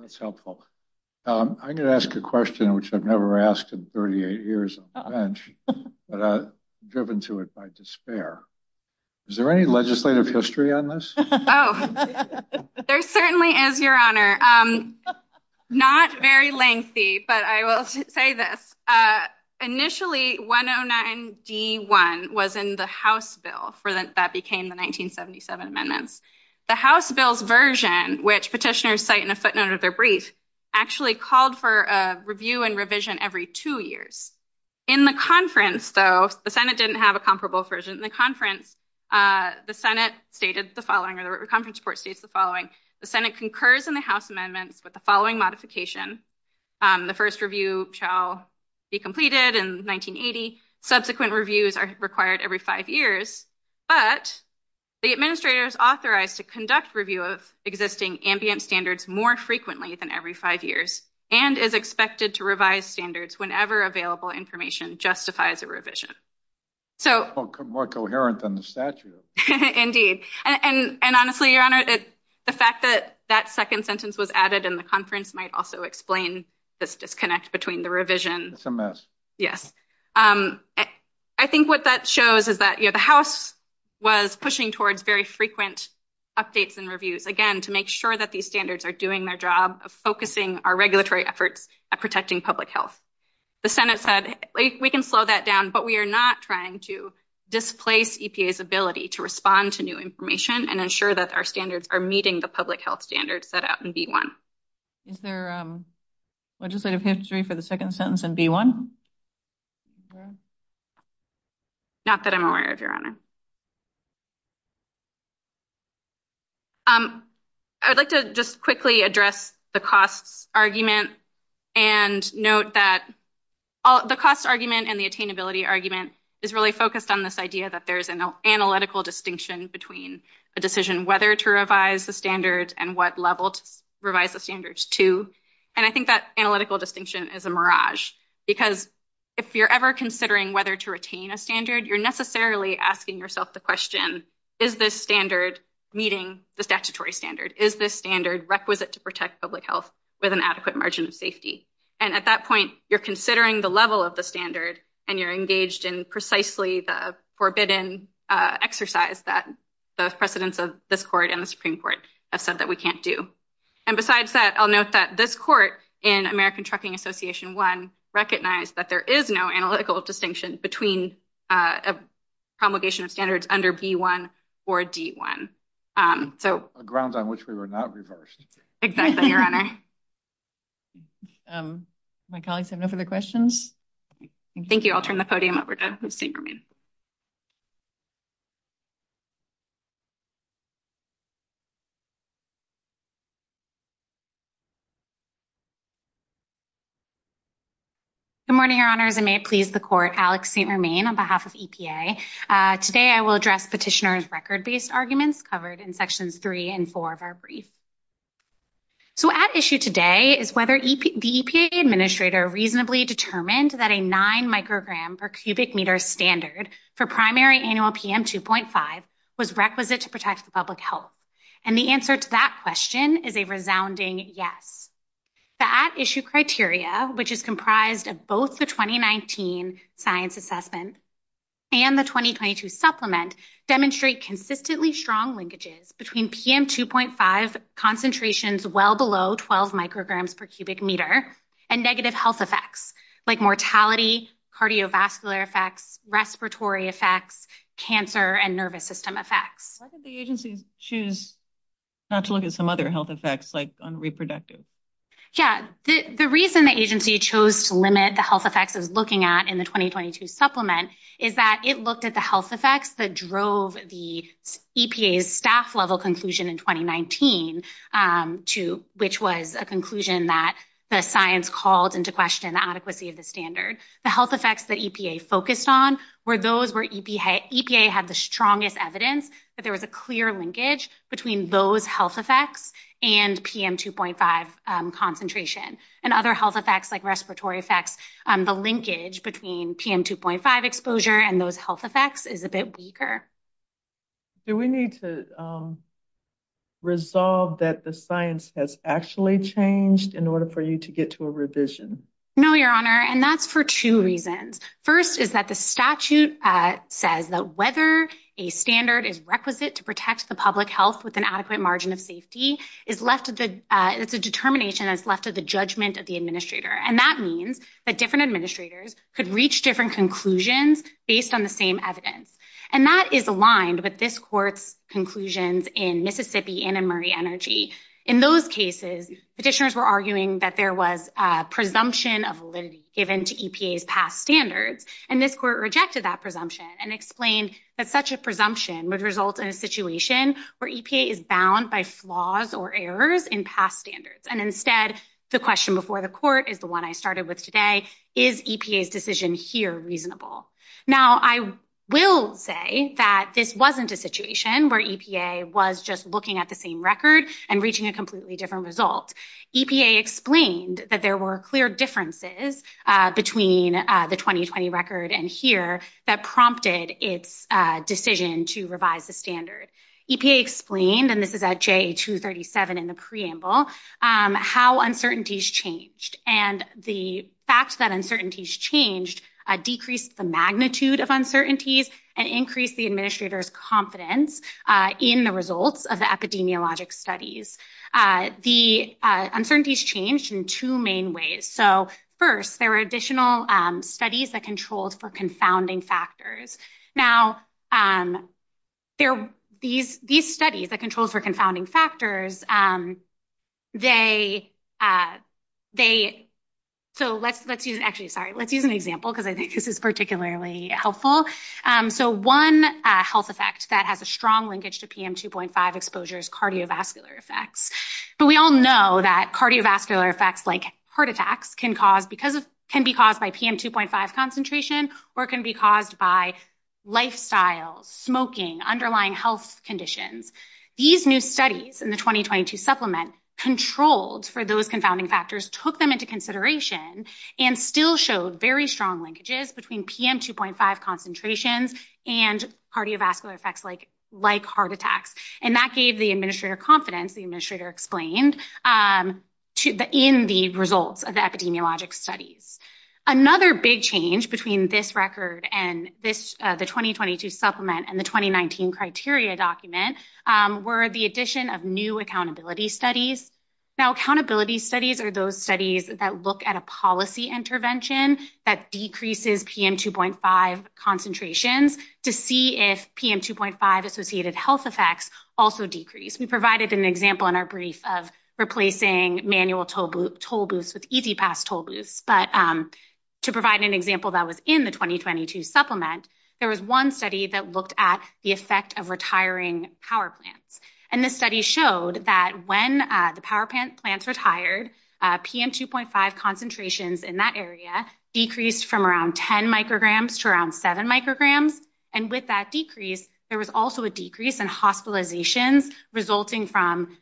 That's helpful. I'm going to ask a question which I've never asked in 38 years on the bench, but I'm driven to it by despair. Is there any legislative history on this? Oh, there certainly is, Your Honor. Not very lengthy, but I will say this. Initially, 109D.1 was in the House bill that became the 1977 amendments. The House bill's version, which petitioners cite in a footnote of their brief, actually called for a review and revision every two years. In the conference, though, the Senate didn't have a comparable version. In the conference, the Senate stated the following, or the conference report states the following. The Senate concurs in the House amendments with the following modification. The first review shall be completed in 1980. Subsequent reviews are required every five years. But the administrator is authorized to conduct review of existing ambient standards more frequently than every five years, and is expected to revise standards whenever available information justifies a revision. More coherent than the statute. Indeed. And honestly, Your Honor, the fact that that second sentence was added in the conference might also explain this disconnect between the revision. It's a mess. Yes. I think what that shows is that the House was pushing towards very frequent updates and reviews, again, to make sure that these standards are doing their job of focusing our regulatory efforts at protecting public health. The Senate said, we can slow that down, but we are not trying to displace EPA's ability to respond to new information and ensure that our standards are meeting the public health standards set out in D1. Is there legislative history for the second sentence in D1? Not that I'm aware of, Your Honor. I would like to just quickly address the cost argument and note that the cost argument and the attainability argument is really focused on this idea that there's an analytical distinction between the decision whether to revise the standards and what level to revise the standards to. And I think that analytical distinction is a mirage. Because if you're ever considering whether to retain a standard, you're necessarily asking yourself the question, is this standard meeting the statutory standard? Is this standard requisite to protect public health with an adequate margin of safety? And at that point, you're considering the level of the standard and you're engaged in precisely the forbidden exercise that the precedents of this court and the Supreme Court have said that we can't do. And besides that, I'll note that this court in American Trucking Association 1 recognized that there is no analytical distinction between promulgation of standards under B1 or D1. A ground on which we were not reversed. Exactly, Your Honor. My colleagues have no further questions? Thank you. I'll turn the podium over to Ms. Dingerman. Good morning, Your Honors. I may please the court Alex St. Hermain on behalf of EPA. Today I will address petitioner's record-based arguments covered in sections 3 and 4 of our brief. So at issue today is whether the EPA administrator reasonably determined that a 9 microgram per cubic meter standard for primary annual PM 2.5 was requisite to protect the public health. And the answer to that question is a resounding yes. The at issue criteria, which is comprised of both the 2019 science assessment and the 2022 supplement, demonstrate consistently strong linkages between PM 2.5 concentrations well below 12 micrograms per cubic meter and negative health effects like mortality, cardiovascular effects, respiratory effects, cancer, and nervous system effects. Why did the agency choose not to look at some other health effects like on reproductive? Yeah, the reason the agency chose to limit the health effects of looking at in the 2022 supplement is that it looked at the health effects that drove the EPA's staff level conclusion in 2019, which was a conclusion that the science called into question the adequacy of the standard. The health effects that EPA focused on were those where EPA had the strongest evidence that there was a clear linkage between those health effects and PM 2.5 concentration. And other health effects like respiratory effects, the linkage between PM 2.5 exposure and those health effects is a bit weaker. Do we need to resolve that the science has actually changed in order for you to get to a revision? No, your honor. And that's for 2 reasons. 1st, is that the statute says that whether a standard is requisite to protect the public health with an adequate margin of safety is left with the determination that's left to the judgment of the administrator. And that means that different administrators could reach different conclusions based on the same evidence. And that is aligned with this court's conclusions in Mississippi and in Murray Energy. In those cases, petitioners were arguing that there was a presumption of validity given to EPA's past standards. And this court rejected that presumption and explained that such a presumption would result in a situation where EPA is bound by flaws or errors in past standards. And instead, the question before the court is the one I started with today. Is EPA's decision here reasonable? Now, I will say that this wasn't a situation where EPA was just looking at the same record and reaching a completely different result. EPA explained that there were clear differences between the 2020 record and here that prompted its decision to revise the standard. EPA explained, and this is at J237 in the preamble, how uncertainties changed. And the fact that uncertainties changed decreased the magnitude of uncertainties and increased the administrator's confidence in the results of the epidemiologic studies. The uncertainties changed in 2 main ways. So, 1st, there were additional studies that controlled for confounding factors. Now, these studies that controlled for confounding factors, they, so let's use an example because I think this is particularly helpful. So, 1 health effect that has a strong linkage to PM2.5 exposure is cardiovascular effects. So, we all know that cardiovascular effects like heart attacks can cause, can be caused by PM2.5 concentration or can be caused by lifestyle, smoking, underlying health conditions. These new studies in the 2022 supplement controlled for those confounding factors, took them into consideration, and still showed very strong linkages between PM2.5 concentrations and cardiovascular effects like heart attacks. And that gave the administrator confidence, the administrator explained, in the results of the epidemiologic studies. Another big change between this record and this, the 2022 supplement and the 2019 criteria document were the addition of new accountability studies. Now, accountability studies are those studies that look at a policy intervention that decreases PM2.5 concentrations to see if PM2.5 associated health effects also decrease. We provided an example in our brief of replacing manual toll booths with easy pass toll booths, but to provide an example that was in the 2022 supplement, there was 1 study that looked at the effect of retiring power plants. And this study showed that when the power plants retired, PM2.5 concentrations in that area decreased from around 10 micrograms to around 7 micrograms. And with that decrease, there was also a decrease in hospitalizations resulting from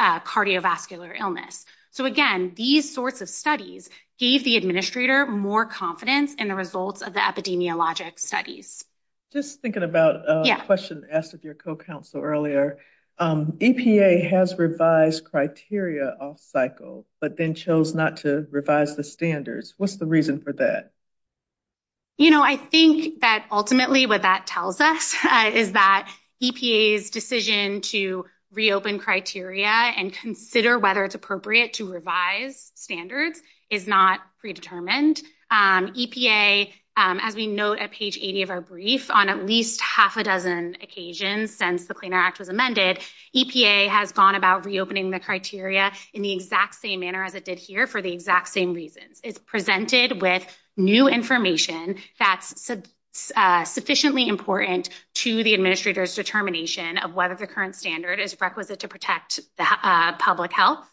cardiovascular illness. So, again, these sorts of studies gave the administrator more confidence in the results of the epidemiologic studies. Just thinking about a question asked of your co-counsel earlier, EPA has revised criteria off cycle, but then chose not to revise the standards. What's the reason for that? You know, I think that ultimately what that tells us is that EPA's decision to reopen criteria and consider whether it's appropriate to revise standards is not predetermined. EPA, as we note at page 80 of our brief, on at least half a dozen occasions since the Cleaner Act was amended, EPA has gone about reopening the criteria in the exact same manner as it did here for the exact same reason. It's presented with new information that's sufficiently important to the administrator's determination of whether the current standard is requisite to protect public health.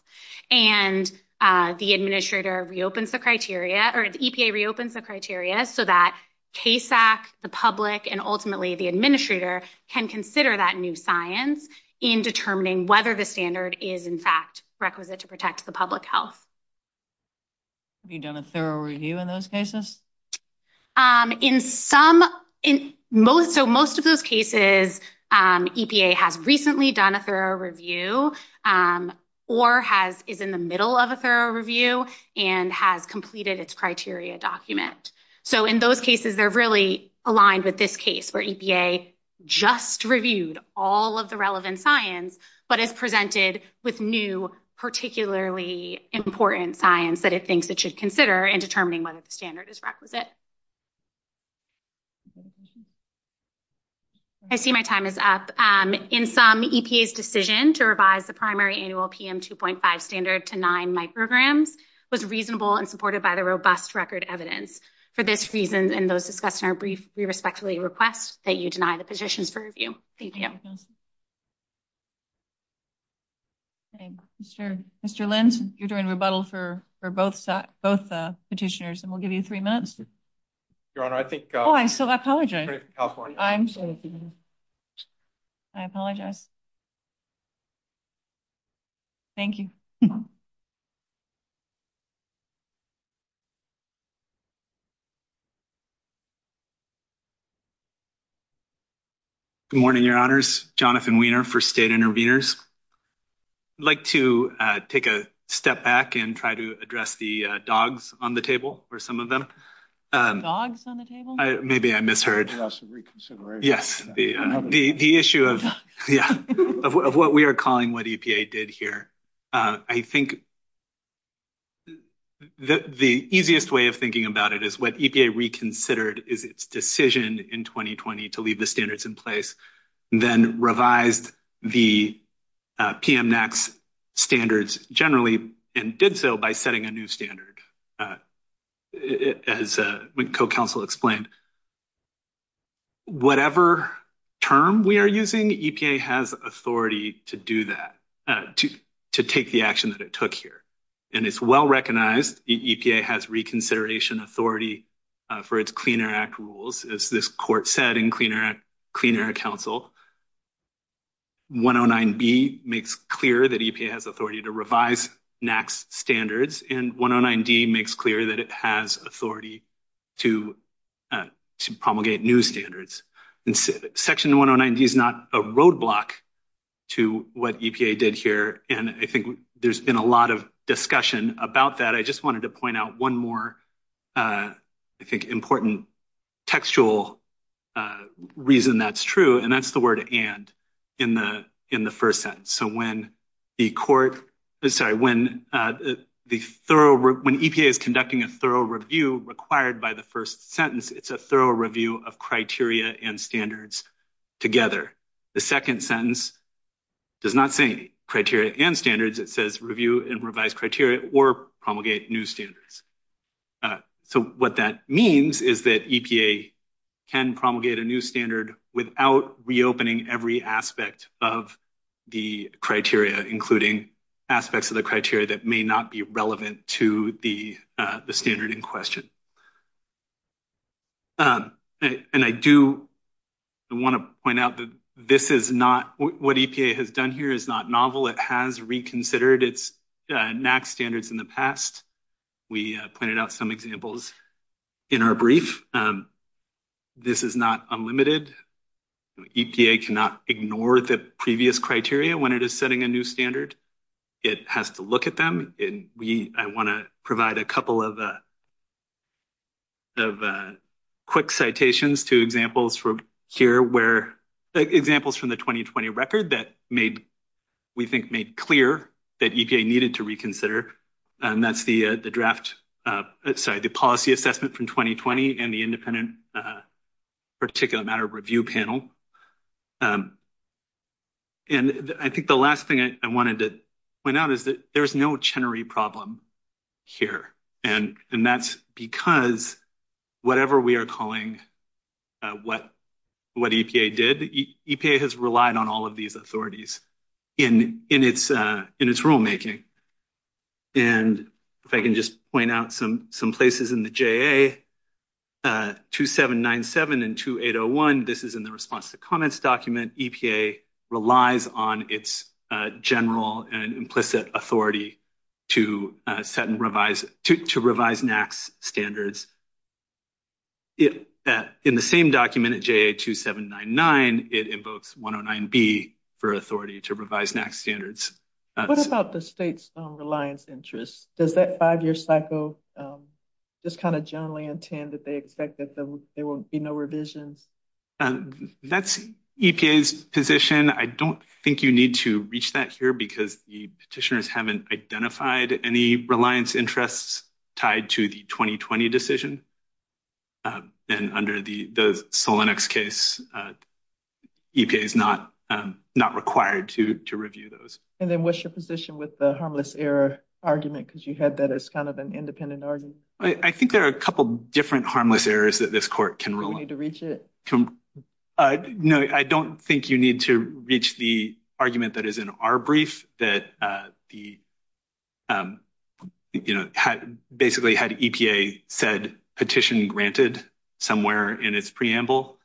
And the administrator reopens the criteria, or the EPA reopens the criteria, so that KSAC, the public, and ultimately the administrator can consider that new science in determining whether the standard is, in fact, requisite to protect the public health. Have you done a thorough review in those cases? In most of those cases, EPA has recently done a thorough review or is in the middle of a thorough review and has completed its criteria document. So, in those cases, they're really aligned with this case where EPA just reviewed all of the relevant science, but it's presented with new, particularly important science that it thinks it should consider in determining whether the standard is requisite. I see my time is up. In some, EPA's decision to revise the primary annual PM 2.5 standard to 9 micrograms was reasonable and supported by the robust record evidence. For this reason, and those discussed in our brief, we respectfully request that you deny the position for review. Thank you. Mr. Lenz, you're doing rebuttal for both petitioners, and we'll give you three minutes. Your Honor, I think… Oh, I'm sorry. I apologize. Thank you. Good morning, Your Honors. Jonathan Wiener for State Intervenors. I'd like to take a step back and try to address the dogs on the table for some of them. Dogs on the table? Maybe I misheard. Yes, reconsideration. Yes, the issue of what we are calling what EPA did here. I think the easiest way of thinking about it is what EPA reconsidered is its decision in 2020 to leave the standards in place, then revised the PM NACS standards generally and did so by setting a new standard. As my co-counsel explained, whatever term we are using, EPA has authority to do that, to take the action that it took here. And it's well recognized that EPA has reconsideration authority for its Clean Air Act rules. As this court said in Clean Air Council, 109B makes clear that EPA has authority to revise NACS standards, and 109D makes clear that it has authority to promulgate new standards. Section 109D is not a roadblock to what EPA did here, and I think there's been a lot of discussion about that. I just wanted to point out one more, I think, important textual reason that's true, and that's the word and in the first sentence. So, when EPA is conducting a thorough review required by the first sentence, it's a thorough review of criteria and standards together. The second sentence does not say criteria and standards. It says review and revise criteria or promulgate new standards. So, what that means is that EPA can promulgate a new standard without reopening every aspect of the criteria, including aspects of the criteria that may not be relevant to the standard in question. And I do want to point out that this is not – what EPA has done here is not novel. It has reconsidered its NACS standards in the past. We pointed out some examples in our brief. This is not unlimited. EPA cannot ignore the previous criteria when it is setting a new standard. It has to look at them, and we – I want to provide a couple of quick citations to examples from here where – examples from the 2020 record that made – we think made clear that EPA needed to reconsider, and that's the draft – sorry, the policy assessment from 2020 and the independent particular matter review panel. And I think the last thing I wanted to point out is that there's no Chenery problem here, and that's because whatever we are calling what EPA did, EPA has relied on all of these authorities in its rulemaking. And if I can just point out some places in the JA-2797 and 2801, this is in the response to comments document. EPA relies on its general and implicit authority to set and revise – to revise NACS standards. In the same document at JA-2799, it invokes 109B for authority to revise NACS standards. What about the state's reliance interest? Does that five-year cycle just kind of generally intend that they expect that there will be no revision? That's EPA's position. I don't think you need to reach that here because the petitioners haven't identified any reliance interests tied to the 2020 decision. And under the Solonix case, EPA is not required to review those. And then what's your position with the harmless error argument? Because you had that as kind of an independent argument. I think there are a couple different harmless errors that this court can rule on. No, I don't think you need to reach the argument that is in our brief that the – you know, basically had EPA said petition granted somewhere in its preamble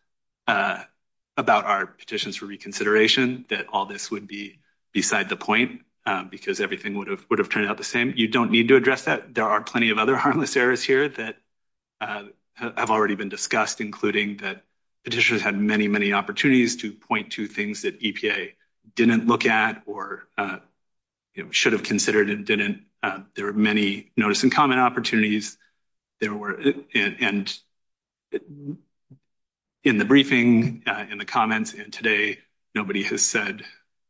about our petitions for reconsideration, that all this would be beside the point because everything would have turned out the same. You don't need to address that. There are plenty of other harmless errors here that have already been discussed, including that petitioners had many, many opportunities to point to things that EPA didn't look at or should have considered and didn't. There were many notice and comment opportunities. There were – and in the briefing, in the comments, and today, nobody has said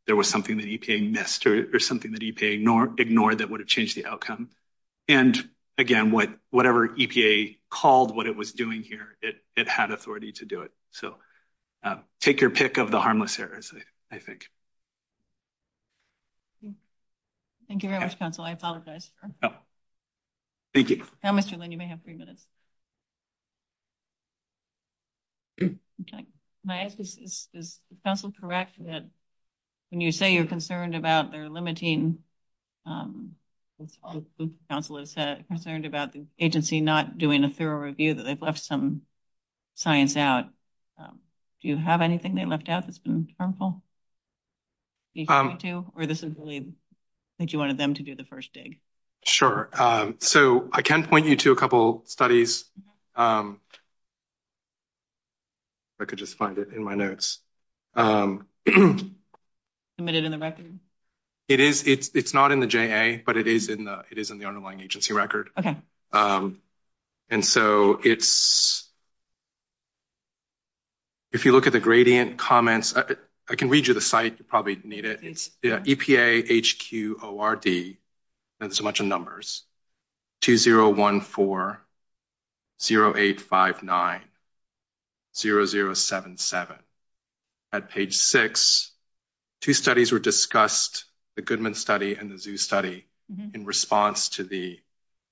there was something that EPA missed or something that EPA ignored that would have changed the outcome. And again, whatever EPA called what it was doing here, it had authority to do it. So take your pick of the harmless errors, I think. Thank you very much, counsel. I apologize. Thank you. Now, Mr. Lynn, you may have three minutes. Okay. My question is, is counsel correct that when you say you're concerned about their limiting, as counsel has said, concerned about the agency not doing a thorough review that they've left some science out, do you have anything they left out that's been harmful? Or this is really that you wanted them to do the first dig? Sure. So I can point you to a couple studies. If I could just find it in my notes. Submitted in the record? It's not in the JA, but it is in the underlying agency record. Okay. And so it's... If you look at the gradient comments, I can read you the site. You probably need it. EPA HQ ORD, there's a bunch of numbers, 2014-0859-0077. At page six, two studies were discussed, the Goodman study and the Zoo study, in response to the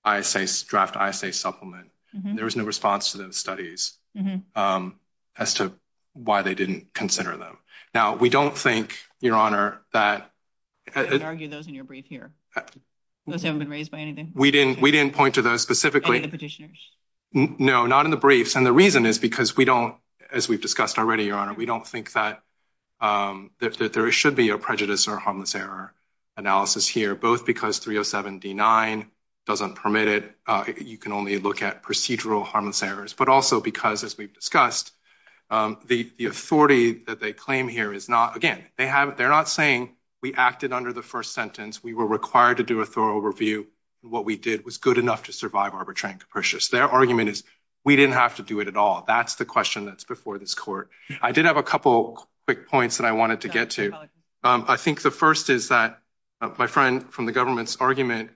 ISA, draft ISA supplement. There was no response to those studies as to why they didn't consider them. Now, we don't think, Your Honor, that... I would argue those are in your brief here. Those haven't been raised by anything. We didn't point to those specifically. Any petitioners? No, not in the briefs. And the reason is because we don't, as we've discussed already, Your Honor, we don't think that there should be a prejudice or harmless error analysis here, both because 307-D9 doesn't permit it. You can only look at procedural harmless errors. But also because, as we've discussed, the authority that they claim here is not... Again, they're not saying we acted under the first sentence. We were required to do a thorough review. What we did was good enough to survive arbitration capricious. Their argument is we didn't have to do it at all. That's the question that's before this court. I did have a couple quick points that I wanted to get to. I think the first is that my friend from the government's argument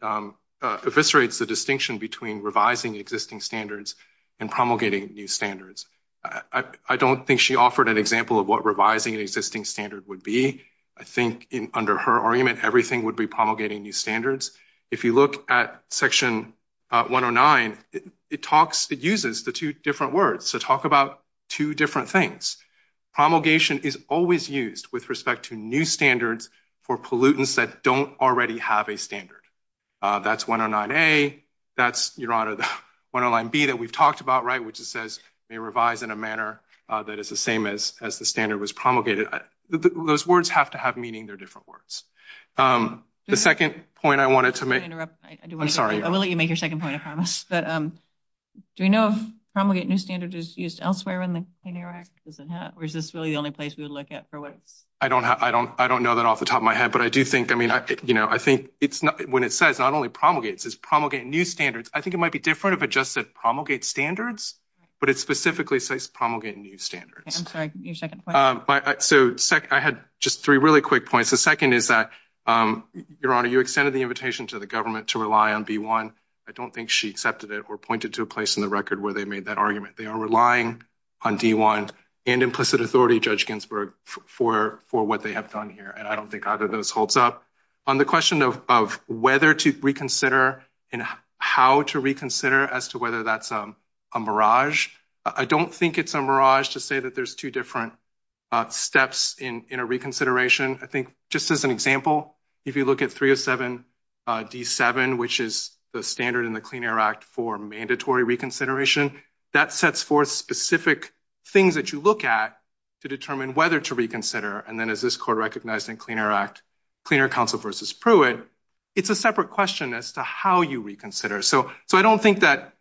eviscerates the distinction between revising existing standards and promulgating new standards. I don't think she offered an example of what revising an existing standard would be. I think under her argument, everything would be promulgating new standards. If you look at Section 109, it uses the two different words. So talk about two different things. Promulgation is always used with respect to new standards for pollutants that don't already have a standard. That's 109A. That's, Your Honor, the 109B that we've talked about, right, which says they revise in a manner that is the same as the standard was promulgated. Those words have to have meaning. They're different words. The second point I wanted to make... I'm sorry. I will let you make your second point, I promise. Do we know if promulgate new standards is used elsewhere in the 109 Act? Or is this really the only place we would look at? I don't know that off the top of my head. But I do think, I mean, I think when it says not only promulgate, it says promulgate new standards. I think it might be different if it just said promulgate standards, but it specifically says promulgate new standards. I'm sorry, your second point. So I had just three really quick points. The second is that, Your Honor, you extended the invitation to the government to rely on B1. I don't think she accepted it or pointed to a place in the record where they made that argument. They are relying on D1 and implicit authority, Judge Ginsburg, for what they have done here. And I don't think either of those holds up. On the question of whether to reconsider and how to reconsider as to whether that's a mirage, I don't think it's a mirage to say that there's two different steps in a reconsideration. I think just as an example, if you look at 307 D7, which is the standard in the Clean Air Act for mandatory reconsideration, that sets forth specific things that you look at to determine whether to reconsider. And then as this court recognized in Clean Air Act, Clean Air Council versus Pruitt, it's a separate question as to how you reconsider. So I don't think that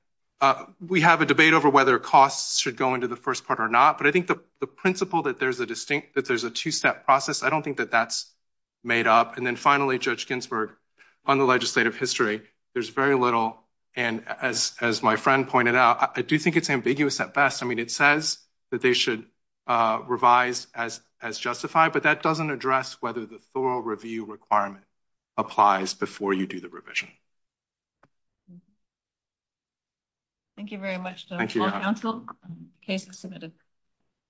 we have a debate over whether costs should go into the first part or not. But I think the principle that there's a distinct, that there's a two-step process, I don't think that that's made up. And then finally, Judge Ginsburg, on the legislative history, there's very little. And as my friend pointed out, I do think it's ambiguous at best. I mean, it says that they should revise as justified, but that doesn't address whether the thorough review requirement applies before you do the revision. Thank you very much.